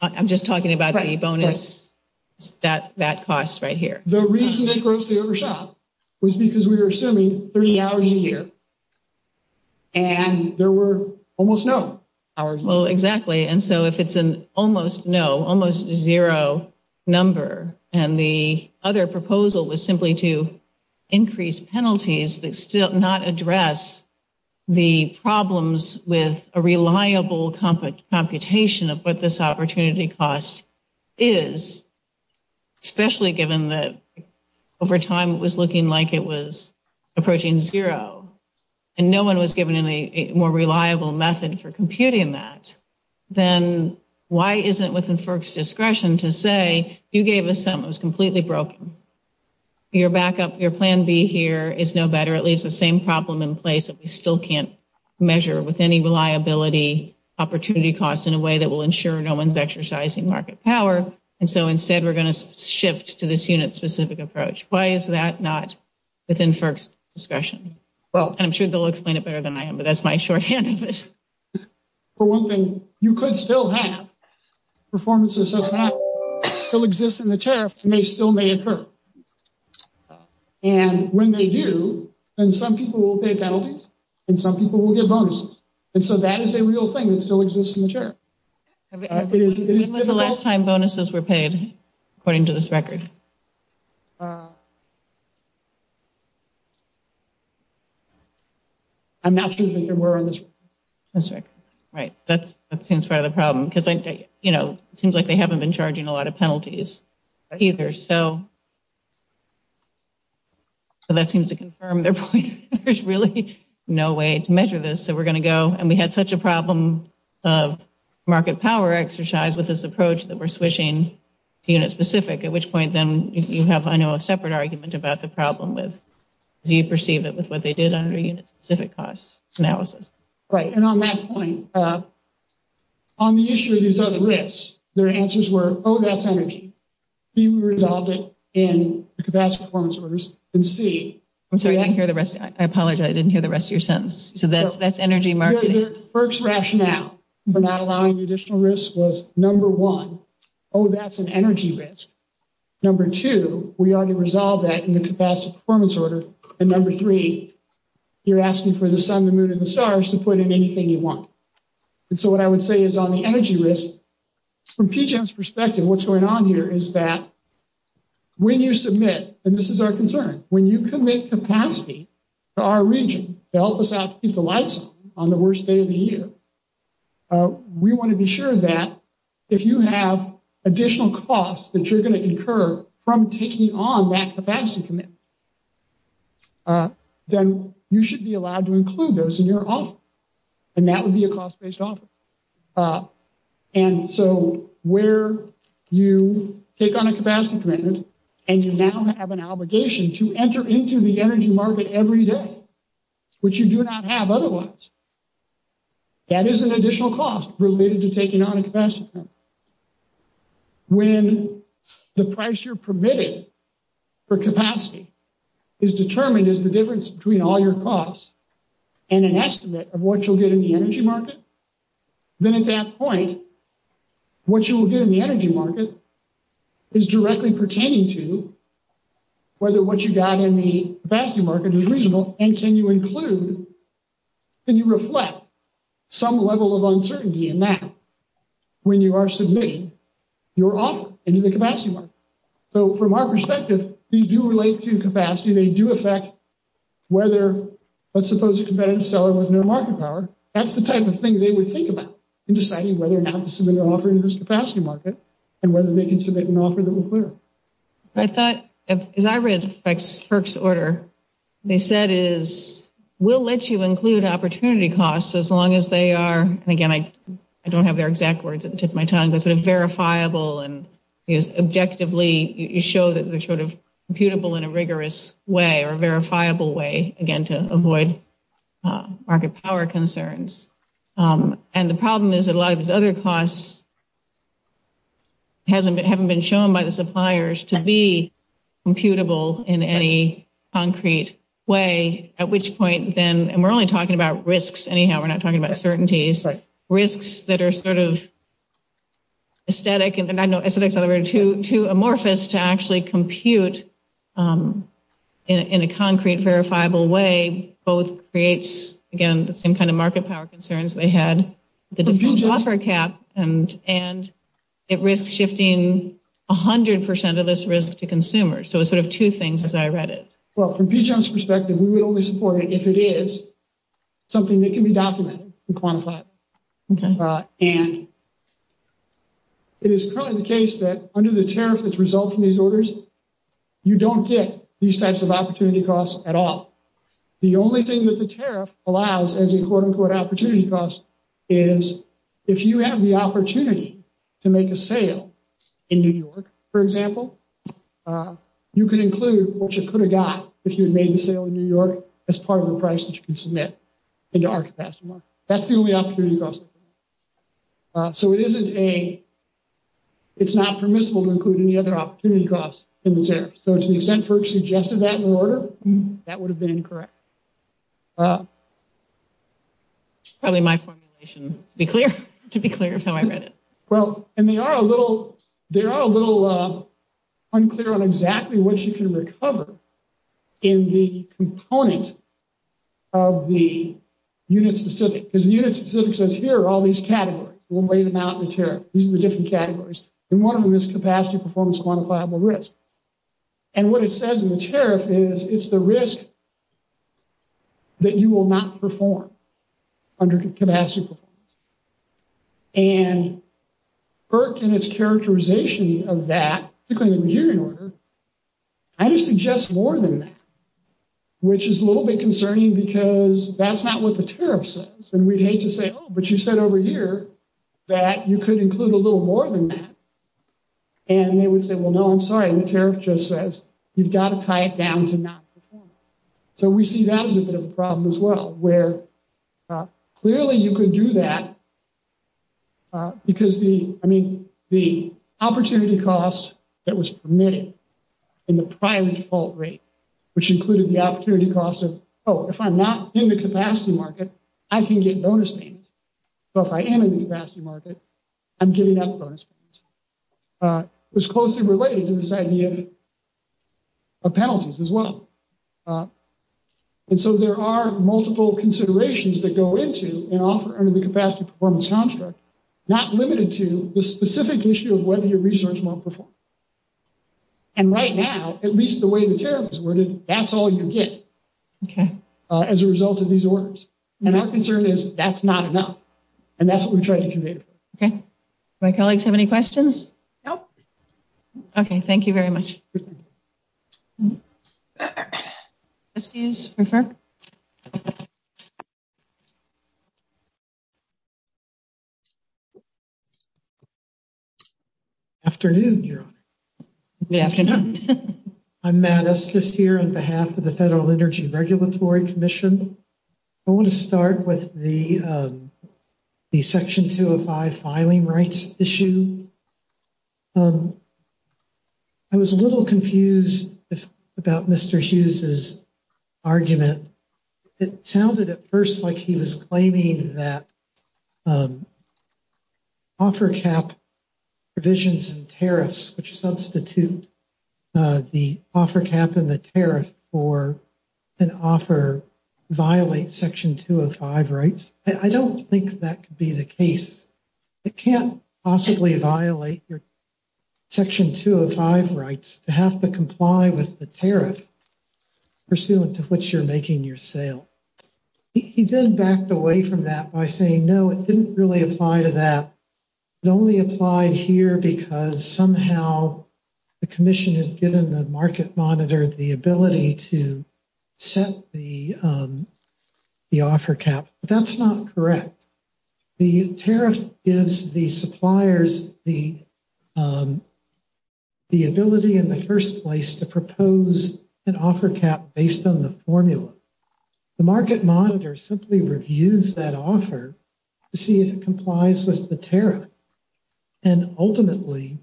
I'm just talking about the bonus, that cost right here. The reason they grossly overshot was because we were assuming three hours a year. And there were almost none. Well, exactly. And so, if it's an almost no, almost zero number, and the other proposal was simply to increase penalties but still not address the problems with a reliable computation of what this opportunity cost is, especially given that over time it was looking like it was approaching zero. And no one was giving a more reliable method for computing that, then why is it within FERC's discretion to say you gave us something that was completely broken? Your backup, your plan B here is no better. It leaves the same problem in place that we still can't measure with any reliability opportunity cost in a way that will ensure no one's exercising market power. And so, instead, we're going to shift to this unit-specific approach. Why is that not within FERC's discretion? Well, I'm sure they'll explain it better than I am, but that's my short hand at this. For one thing, you could still have performances that still exist in the tariff and they still may occur. And when they do, then some people will pay penalties and some people will get bonuses. And so, that is a real thing that still exists in the tariff. It isn't like the last time bonuses were paid, according to this record. I'm not sure if these are words. That's right. Right. That seems part of the problem, because, you know, it seems like they haven't been charging a lot of penalties either. So, that seems to confirm their point. There's really no way to measure this. So, we're going to go, and we had such a problem of market power exercise with this approach that we're switching to unit-specific, at which point, then, you have, I know, a separate argument about the problem with, do you perceive it with what they did on the unit-specific cost analysis? Right. And on that point, on the issue of resulting risk, their answers were, oh, that's energy. You resolved it in capacity performance or risk, and see. I'm sorry. I didn't hear the rest. I apologize. I didn't hear the rest of your sentence. So, that's energy market. Their first rationale for not allowing the additional risk was, number one, oh, that's an energy risk. Number two, we already resolved that in the capacity performance order. And number three, you're asking for the sun, the moon, and the stars to put in anything you want. And so, what I would say is, on the energy risk, from PGEM's perspective, what's going on here is that when you submit, and this is our concern, when you commit capacity to our region to help us out to keep the lights on the worst day of the year, we want to be sure that if you have additional costs that you're going to incur from taking on that capacity commitment, then you should be allowed to include those in your offer. And that would be a cost-based offer. And so, where you take on a capacity commitment and you now have an obligation to enter into the energy market every day, which you do not have otherwise, that is an additional cost related to taking on a capacity commitment. When the price you're permitted for capacity is determined as the difference between all your costs and an estimate of what you'll get in the energy market, then at that point, what you will get in the energy market is directly pertaining to whether what you got in the capacity market is reasonable, and can you include, can you reflect some level of uncertainty in that when you are submitting your offer into the capacity market. So, from our perspective, these do relate to capacity. They do affect whether, let's suppose a competitive seller doesn't have market power. That's the type of thing they would think about in deciding whether or not to submit an offer into the capacity market, and whether they can submit an offer to the firm. I thought, as I read Sperk's order, they said it is, we'll let you include opportunity costs as long as they are, again, I don't have their exact words, it took my time, but sort of verifiable and objectively, you show that they're sort of computable in a rigorous way or a verifiable way, again, to avoid market power concerns. And the problem is that a lot of these other costs haven't been shown by the suppliers to be computable in any concrete way, at which point then, and we're only talking about risks, anyhow, we're not talking about certainties, but risks that are sort of aesthetic, and I know aesthetics are too amorphous to actually compute in a concrete, verifiable way, both creates, again, the same kind of market power concerns we had with the offer cap, and it risks shifting 100% of this risk to consumers. So it's sort of two things as I read it. Well, from B-Chunk's perspective, we would only support it if it is something that can be documented and quantified. And it is currently the case that under the tariff which results from these orders, you don't get these types of opportunity costs at all. The only thing that the tariff allows as a quote-unquote opportunity cost is if you have the opportunity to make a sale in New York, for example, you can include what you could have got if you had made a sale in New York as part of the price that you can submit into our capacity market. That's the only opportunity cost. So it isn't a – it's not permissible to include any other opportunity costs in the tariff. So to the extent FERC suggested that in order. That would have been correct. Probably my formulation, to be clear, is how I read it. Well, and there are a little unclear on exactly what you can recover in the component of the unit-specific, because the unit-specific says here are all these categories. We'll lay them out in the tariff. These are the different categories. And one of them is capacity performance quantifiable risk. And what it says in the tariff is it's the risk that you will not perform under capacity performance. And FERC in its characterization of that, particularly in the unit order, actually suggests more than that, which is a little bit concerning because that's not what the tariff says. And we'd hate to say, oh, but you said over here that you could include a little more than that. And they would say, well, no, I'm sorry. The tariff just says you've got to tie it down to not perform. So we see that as a problem as well, where clearly you could do that because the – I mean, the opportunity cost that was permitted in the prior default rate, which included the opportunity cost of, oh, if I'm not in the capacity market, I can get bonus payments. So if I am in the capacity market, I'm getting bonus payments. It's closer to this idea of penalties as well. And so there are multiple considerations that go into the capacity performance construct, not limited to the specific issue of whether your research will perform. And right now, at least the way the tariff is looking, that's all you can get as a result of these orders. And our concern is that's not enough. And that's what we're trying to do. Okay. Do our colleagues have any questions? No. Okay. Thank you very much. Afternoon, everyone. Good afternoon. I'm Matt Estes here on behalf of the Federal Energy Regulatory Commission. I want to start with the Section 205 filing rights issue. I was a little confused about Mr. Hughes' argument. It sounded at first like he was claiming that offer cap provisions and tariffs, which substitute the offer cap and the tariff for an offer, violate Section 205 rights. I don't think that could be the case. It can't possibly violate your Section 205 rights to have to comply with the tariff, pursuant to which you're making your sale. He then backed away from that by saying, no, it didn't really apply to that. It only applied here because somehow the commission has given the market monitor the ability to set the offer cap. That's not correct. The tariff gives the suppliers the ability in the first place to propose an offer cap based on the formula. The market monitor simply reviews that offer to see if it complies with the tariff. Ultimately,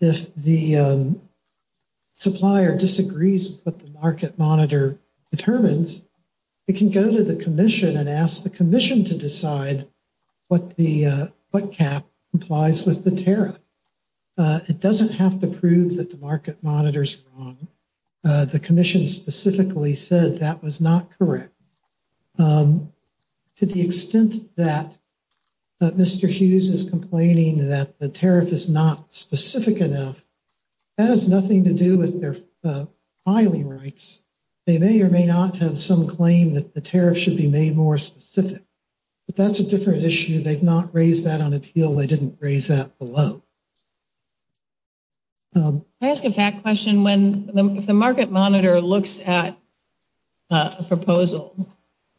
if the supplier disagrees with what the market monitor determines, it can go to the commission and ask the commission to decide what cap complies with the tariff. It doesn't have to prove that the market monitor is wrong. The commission specifically said that was not correct. To the extent that Mr. Hughes is complaining that the tariff is not specific enough, that has nothing to do with their filing rights. They may or may not have some claim that the tariff should be made more specific. But that's a different issue. They've not raised that on appeal. They didn't raise that below. Can I ask a fact question? If the market monitor looks at a proposal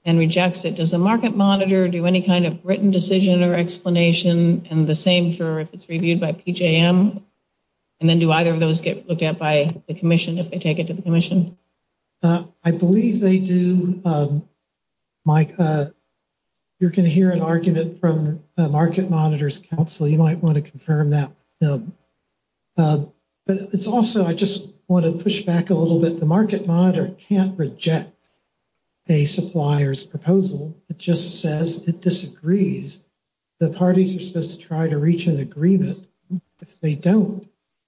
and rejects it, does the market monitor do any kind of written decision or explanation, and the same for if it's reviewed by PJM? And then do either of those get looked at by the commission if they take it to the commission? I believe they do, Mike. Well, you might want to confirm that. But it's also, I just want to push back a little bit. The market monitor can't reject a supplier's proposal. It just says it disagrees. The parties are supposed to try to reach an agreement. If they don't,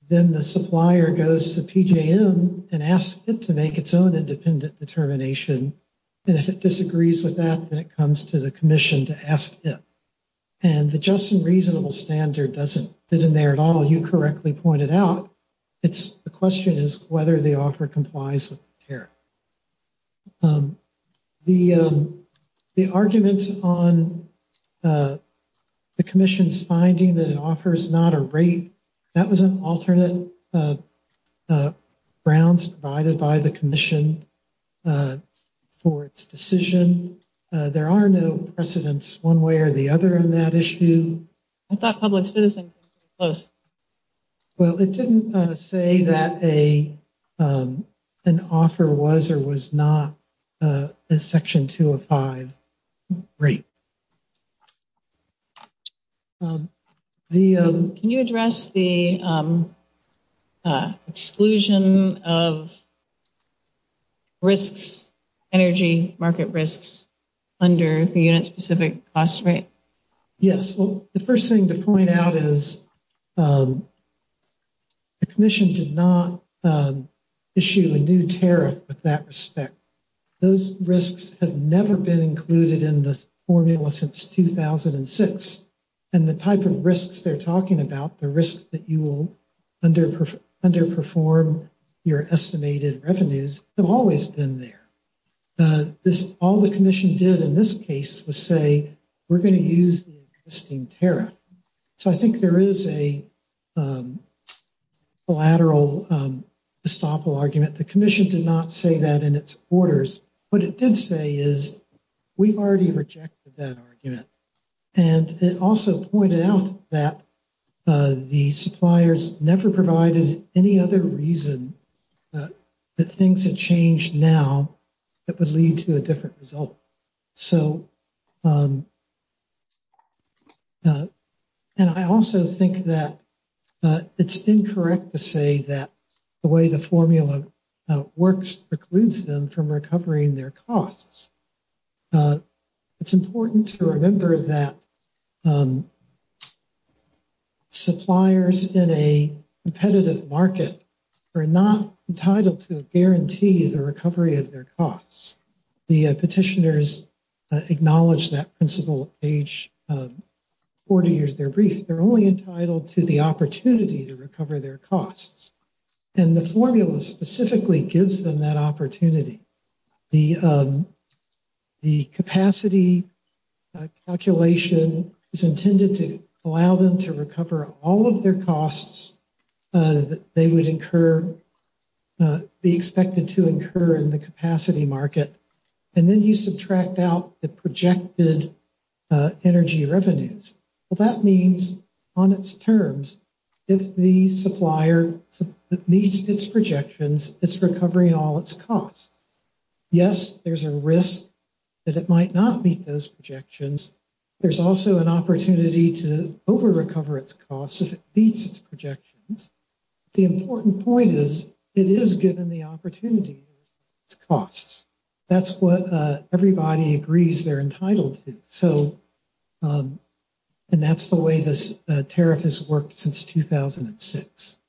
then the supplier goes to PJM and asks it to make its own independent determination. And if it disagrees with that, then it comes to the commission to ask it. And the just and reasonable standard doesn't fit in there at all, you correctly pointed out. The question is whether the offer complies with the tariff. The arguments on the commission's finding that it offers not a rate, that was an alternate grounds provided by the commission for its decision. There are no precedents one way or the other in that issue. I thought public citizens were supposed to. Well, it didn't say that an offer was or was not a Section 205 rate. Can you address the exclusion of risks, energy market risks under the specific cost rate? Yes. Well, the first thing to point out is the commission did not issue a new tariff with that respect. Those risks have never been included in the formula since 2006. And the type of risks they're talking about, the risks that you will underperform your estimated revenues have always been there. All the commission did in this case was say, we're going to use the existing tariff. So I think there is a collateral estoppel argument. The commission did not say that in its orders. What it did say is we've already rejected that argument. And it also pointed out that the suppliers never provided any other reason that things have changed now that would lead to a different result. So and I also think that it's incorrect to say that the way the formula works precludes them from recovering their costs. It's important to remember that suppliers in a competitive market are not entitled to guarantee the recovery of their costs. The petitioners acknowledge that principle at age 40 years their brief. They're only entitled to the opportunity to recover their costs. And the formula specifically gives them that opportunity. The capacity calculation is intended to allow them to recover all of their costs that they would incur, be expected to incur in the capacity market. And then you subtract out the projected energy revenues. That means on its terms, if the supplier needs its projections, it's recovering all its costs. Yes, there's a risk that it might not meet those projections. There's also an opportunity to over-recover its costs if it meets its projections. The important point is it is given the opportunity to meet its costs. That's what everybody agrees they're entitled to. So and that's the way this tariff has worked since 2006.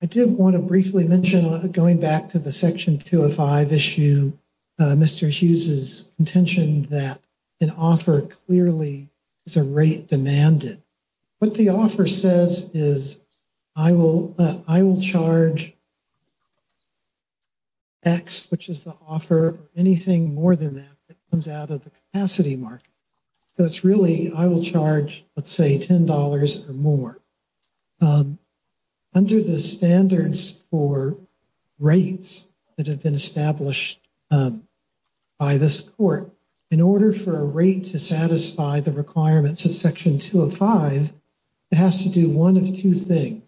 I do want to briefly mention, going back to the Section 205 issue, Mr. Hughes' intention that an offer clearly is a rate demanded. What the offer says is I will charge X, which is the offer, anything more than that that comes out of the capacity market. So it's really I will charge, let's say, $10 or more. Under the standards for rates that have been established by this court, in order for a rate to satisfy the requirements of Section 205, it has to do one of two things.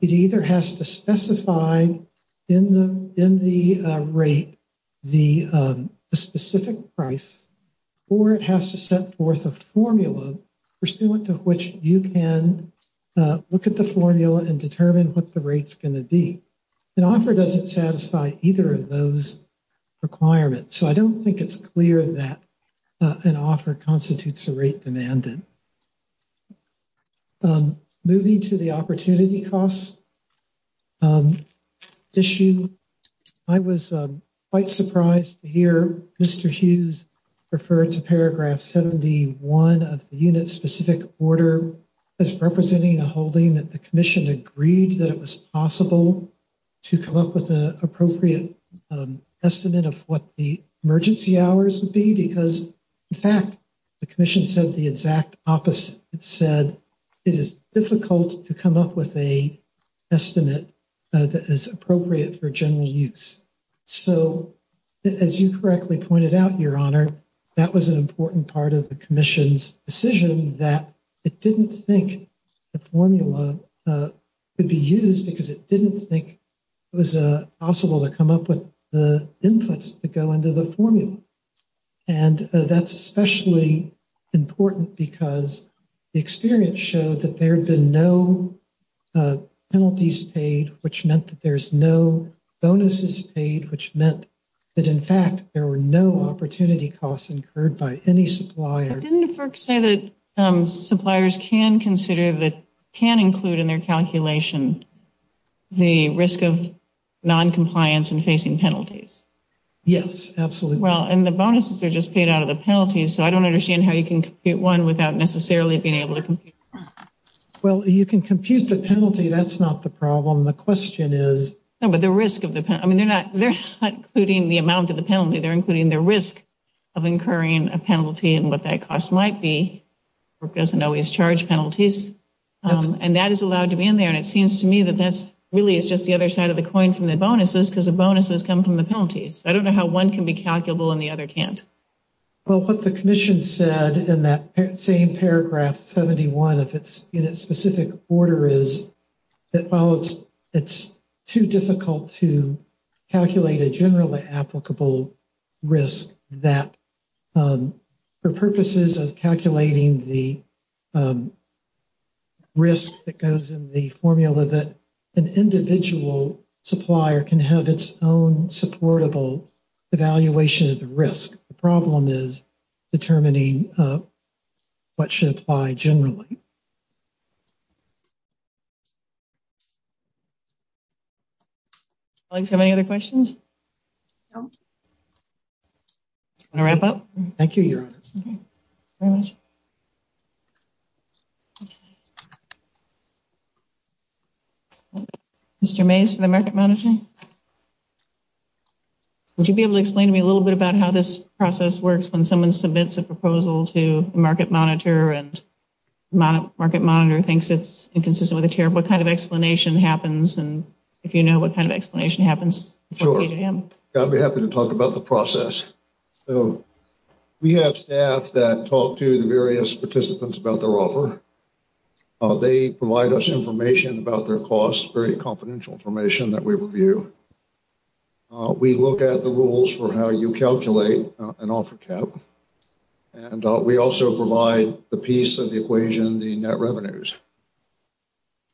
It either has to specify in the rate the specific price, or it has to set forth a formula for which you can look at the formula and determine what the rate's going to be. An offer doesn't satisfy either of those requirements. So I don't think it's clear that an offer constitutes a rate demanded. Moving to the opportunity costs issue, I was quite surprised to hear Mr. Hughes refer to Paragraph 71 of the unit-specific order as representing a holding that the Commission agreed that it was possible to come up with an appropriate estimate of what the emergency hours would be. That's because, in fact, the Commission said the exact opposite. It said it is difficult to come up with an estimate that is appropriate for general use. So, as you correctly pointed out, Your Honor, that was an important part of the Commission's decision that it didn't think the formula could be used because it didn't think it was possible to come up with the inputs to go into the formula. And that's especially important because the experience showed that there had been no penalties paid, which meant that there's no bonuses paid, which meant that, in fact, there were no opportunity costs incurred by any supplier. Didn't the book say that suppliers can consider, that can include in their calculation, the risk of noncompliance and facing penalties? Yes, absolutely. Well, and the bonuses are just paid out of the penalties, so I don't understand how you can compute one without necessarily being able to compute the penalty. Well, you can compute the penalty. That's not the problem. The question is… No, but the risk of the penalty. I mean, they're not including the amount of the penalty. They're including the risk of incurring a penalty and what that cost might be. The book doesn't always charge penalties, and that is allowed to be in there, and it seems to me that that really is just the other side of the coin from the bonuses because the bonuses come from the penalties. I don't know how one can be calculable and the other can't. Well, what the commission said in that same paragraph 71, if it's in a specific order, is that it's too difficult to calculate a generally applicable risk that, for purposes of calculating the risk that goes in the formula, that an individual supplier can have its own supportable evaluation of the risk. The problem is determining what should apply generally. Do you have any other questions? No. Do you want to wrap up? Thank you. Mr. Mays from the market monitor, would you be able to explain to me a little bit about how this process works when someone submits a proposal to the market monitor and the market monitor thinks it's inconsistent with the care of what kind of explanation happens and if you know what kind of explanation happens? Sure. I'll be happy to talk about the process. We have staff that talk to the various participants about their offer. They provide us information about their costs, very confidential information that we review. We look at the rules for how you calculate an offer cap and we also provide the piece of the equation, the net revenues.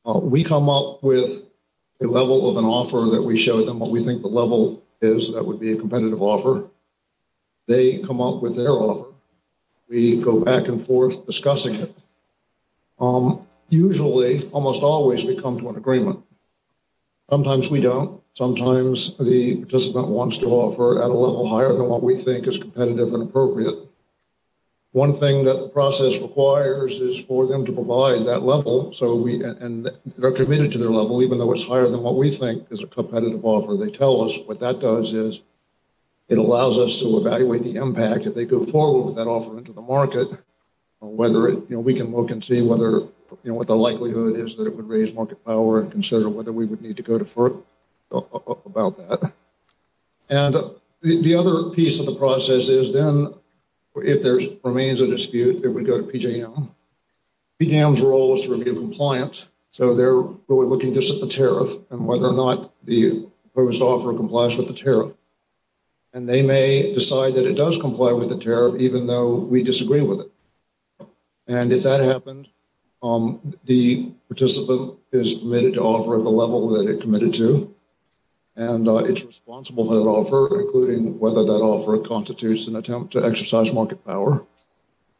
We come up with a level of an offer that we show them what we think the level is that would be a competitive offer. They come up with their offer. We go back and forth discussing it. Usually, almost always, we come to an agreement. Sometimes we don't. Sometimes the participant wants to offer at a level higher than what we think is competitive and appropriate. One thing that the process requires is for them to provide that level and they're committed to their level even though it's higher than what we think is a competitive offer. They tell us what that does is it allows us to evaluate the impact if they could afford that offer to the market. We can look and see what the likelihood is that it would raise market power and consider whether we would need to go to FERC about that. The other piece of the process is then, if there remains a dispute, that we go to PJM. PJM's role is to review compliance. They're really looking just at the tariff and whether or not the proposed offer complies with the tariff. They may decide that it does comply with the tariff even though we disagree with it. If that happens, the participant is committed to offer at the level that they're committed to. It's responsible to offer, including whether that offer constitutes an attempt to exercise market power.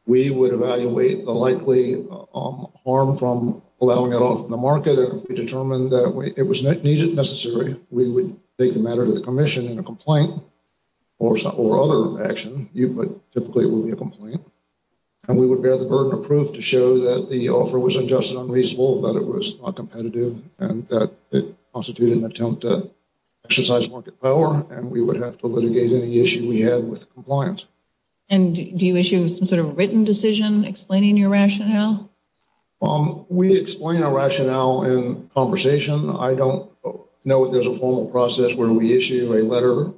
We would evaluate the likely harm from allowing it off the market. If we determined that it was necessary, we would take the matter to the commission in a complaint or other action. Typically, it would be a complaint. We would bear the burden of proof to show that the offer was unjust and unreasonable, that it was not competitive, and that it constituted an attempt to exercise market power. We would have to litigate any issue we had with compliance. Do you issue a written decision explaining your rationale? We explain our rationale in conversation. I don't know if there's a formal process where we issue a letter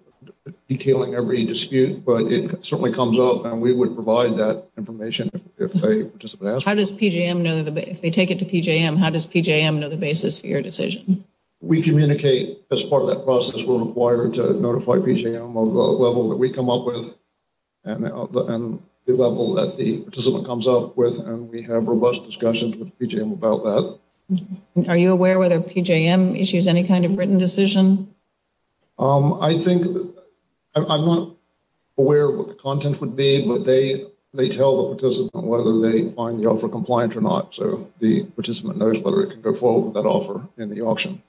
detailing every dispute. But it certainly comes up, and we would provide that information if a participant asks. If they take it to PJM, how does PJM know the basis for your decision? We communicate as part of that process. We're required to notify PJM of the level that we come up with and the level that the participant comes up with, and we have robust discussions with PJM about that. Are you aware whether PJM issues any kind of written decision? I think I'm not aware of what the content would be, but they tell the participant whether they find the offer compliant or not, so the participant knows whether they can go forward with that offer in the auction.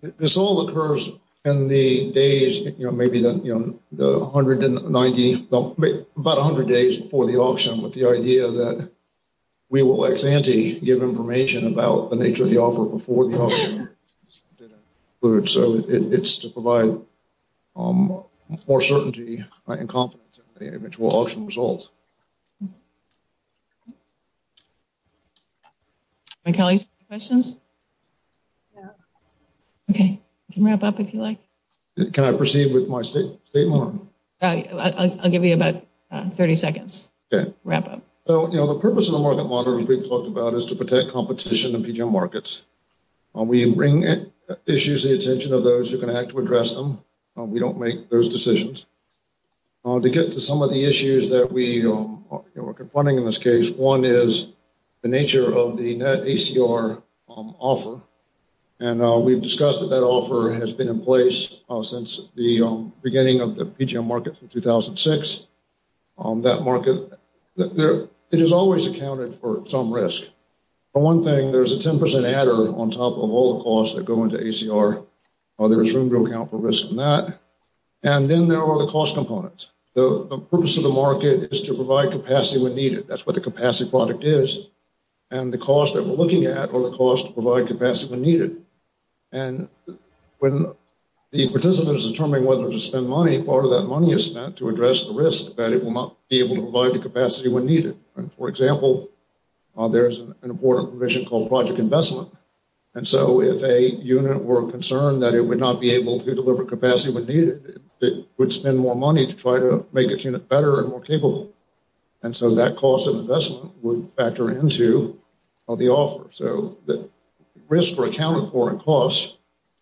This all occurs in the days, you know, maybe the 190, about 100 days before the auction, with the idea that we will ex ante give information about the nature of the offer before the auction. So it's to provide more certainty and confidence in the individual auction results. Are there any questions? Okay, you can wrap up if you like. Can I proceed with my statement? I'll give you about 30 seconds. Okay. Wrap up. So, you know, the purpose of the market model that we've talked about is to protect competition in PJM markets. We bring issues to the attention of those who are going to have to address them. We don't make those decisions. To get to some of the issues that we're confronting in this case, one is the nature of the net ACR offer, and we've discussed that that offer has been in place since the beginning of the PJM market in 2006. That market, it has always accounted for some risk. For one thing, there's a 10% adder on top of all the costs that go into ACR. There's room to account for risk in that. And then there are the cost components. The purpose of the market is to provide capacity when needed. That's what the capacity product is. And the cost that we're looking at are the costs to provide capacity when needed. And when the participants determine whether to spend money, part of that money is spent to address the risk that it will not be able to provide the capacity when needed. For example, there's an important provision called project investment. And so if a unit were concerned that it would not be able to deliver capacity when needed, it would spend more money to try to make its unit better and more capable. And so that cost of investment would factor into the offer. So the risks were accounted for in costs.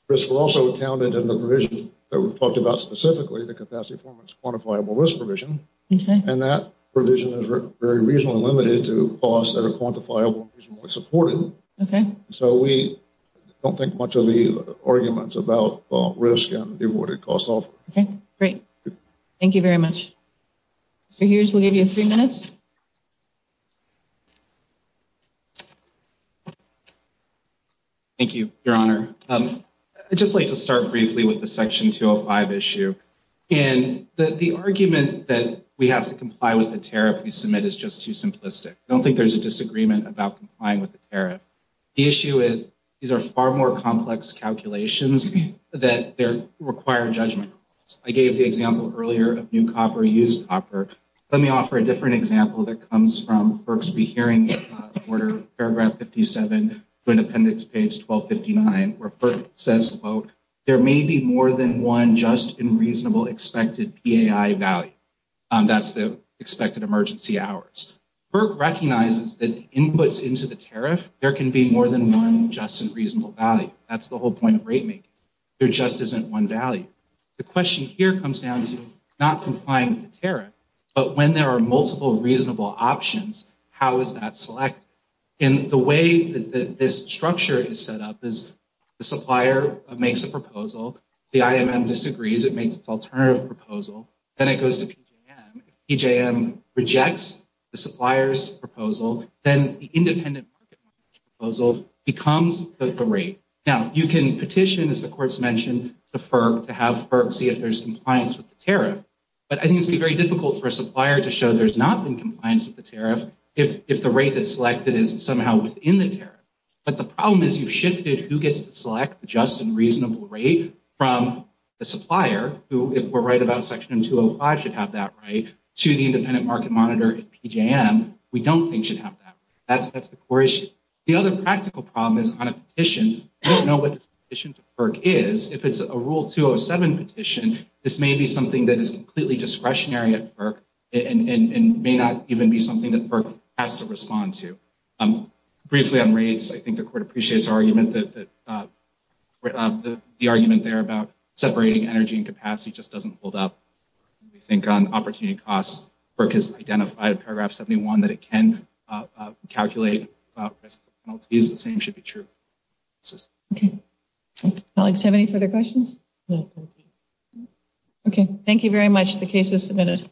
Risks were also accounted in the provision that we talked about specifically, the capacity performance quantifiable risk provision. And that provision is very reasonably limited to costs that are quantifiable and reasonably supportive. So we don't think much of the arguments about risk and the awarded cost offer. Okay, great. Thank you very much. So here's one of your three minutes. Thank you, Your Honor. I'd just like to start briefly with the Section 205 issue. And the argument that we have to comply with the tariff we submit is just too simplistic. I don't think there's a disagreement about complying with the tariff. The issue is these are far more complex calculations that require judgment. I gave the example earlier of new copper, used copper. Let me offer a different example that comes from FERC's hearing order, paragraph 57, Independence page 1259, where FERC says, quote, there may be more than one just and reasonable expected PAI value. That's the expected emergency hours. FERC recognizes that inputs into the tariff, there can be more than one just and reasonable value. That's the whole point of rate making. There just isn't one value. The question here comes down to not complying with the tariff, but when there are multiple reasonable options, how is that selected? And the way that this structure is set up is the supplier makes a proposal. The IMM disagrees. It makes an alternative proposal. PJM rejects the supplier's proposal. Then the independent proposal becomes the rate. Now, you can petition, as the court's mentioned, to FERC to have FERC see if there's compliance with the tariff. But I think it would be very difficult for a supplier to show there's not been compliance with the tariff if the rate that's selected is somehow within the tariff. But the problem is you've shifted who gets to select the just and reasonable rate from the supplier, who if we're right about section 205 should have that right, to the independent market monitor at PJM, we don't think should have that. That's the core issue. The other practical problem is on a petition, they don't know what the petition for FERC is. If it's a Rule 207 petition, this may be something that is completely discretionary at FERC and may not even be something that FERC has to respond to. Briefly, on rates, I think the court appreciates the argument there about separating energy and capacity. It just doesn't hold up. We think on opportunity costs, FERC has identified in paragraph 71 that it can calculate. It's the same should be true. Okay. Colleagues, do you have any further questions? No. Okay. Thank you very much. The case is submitted.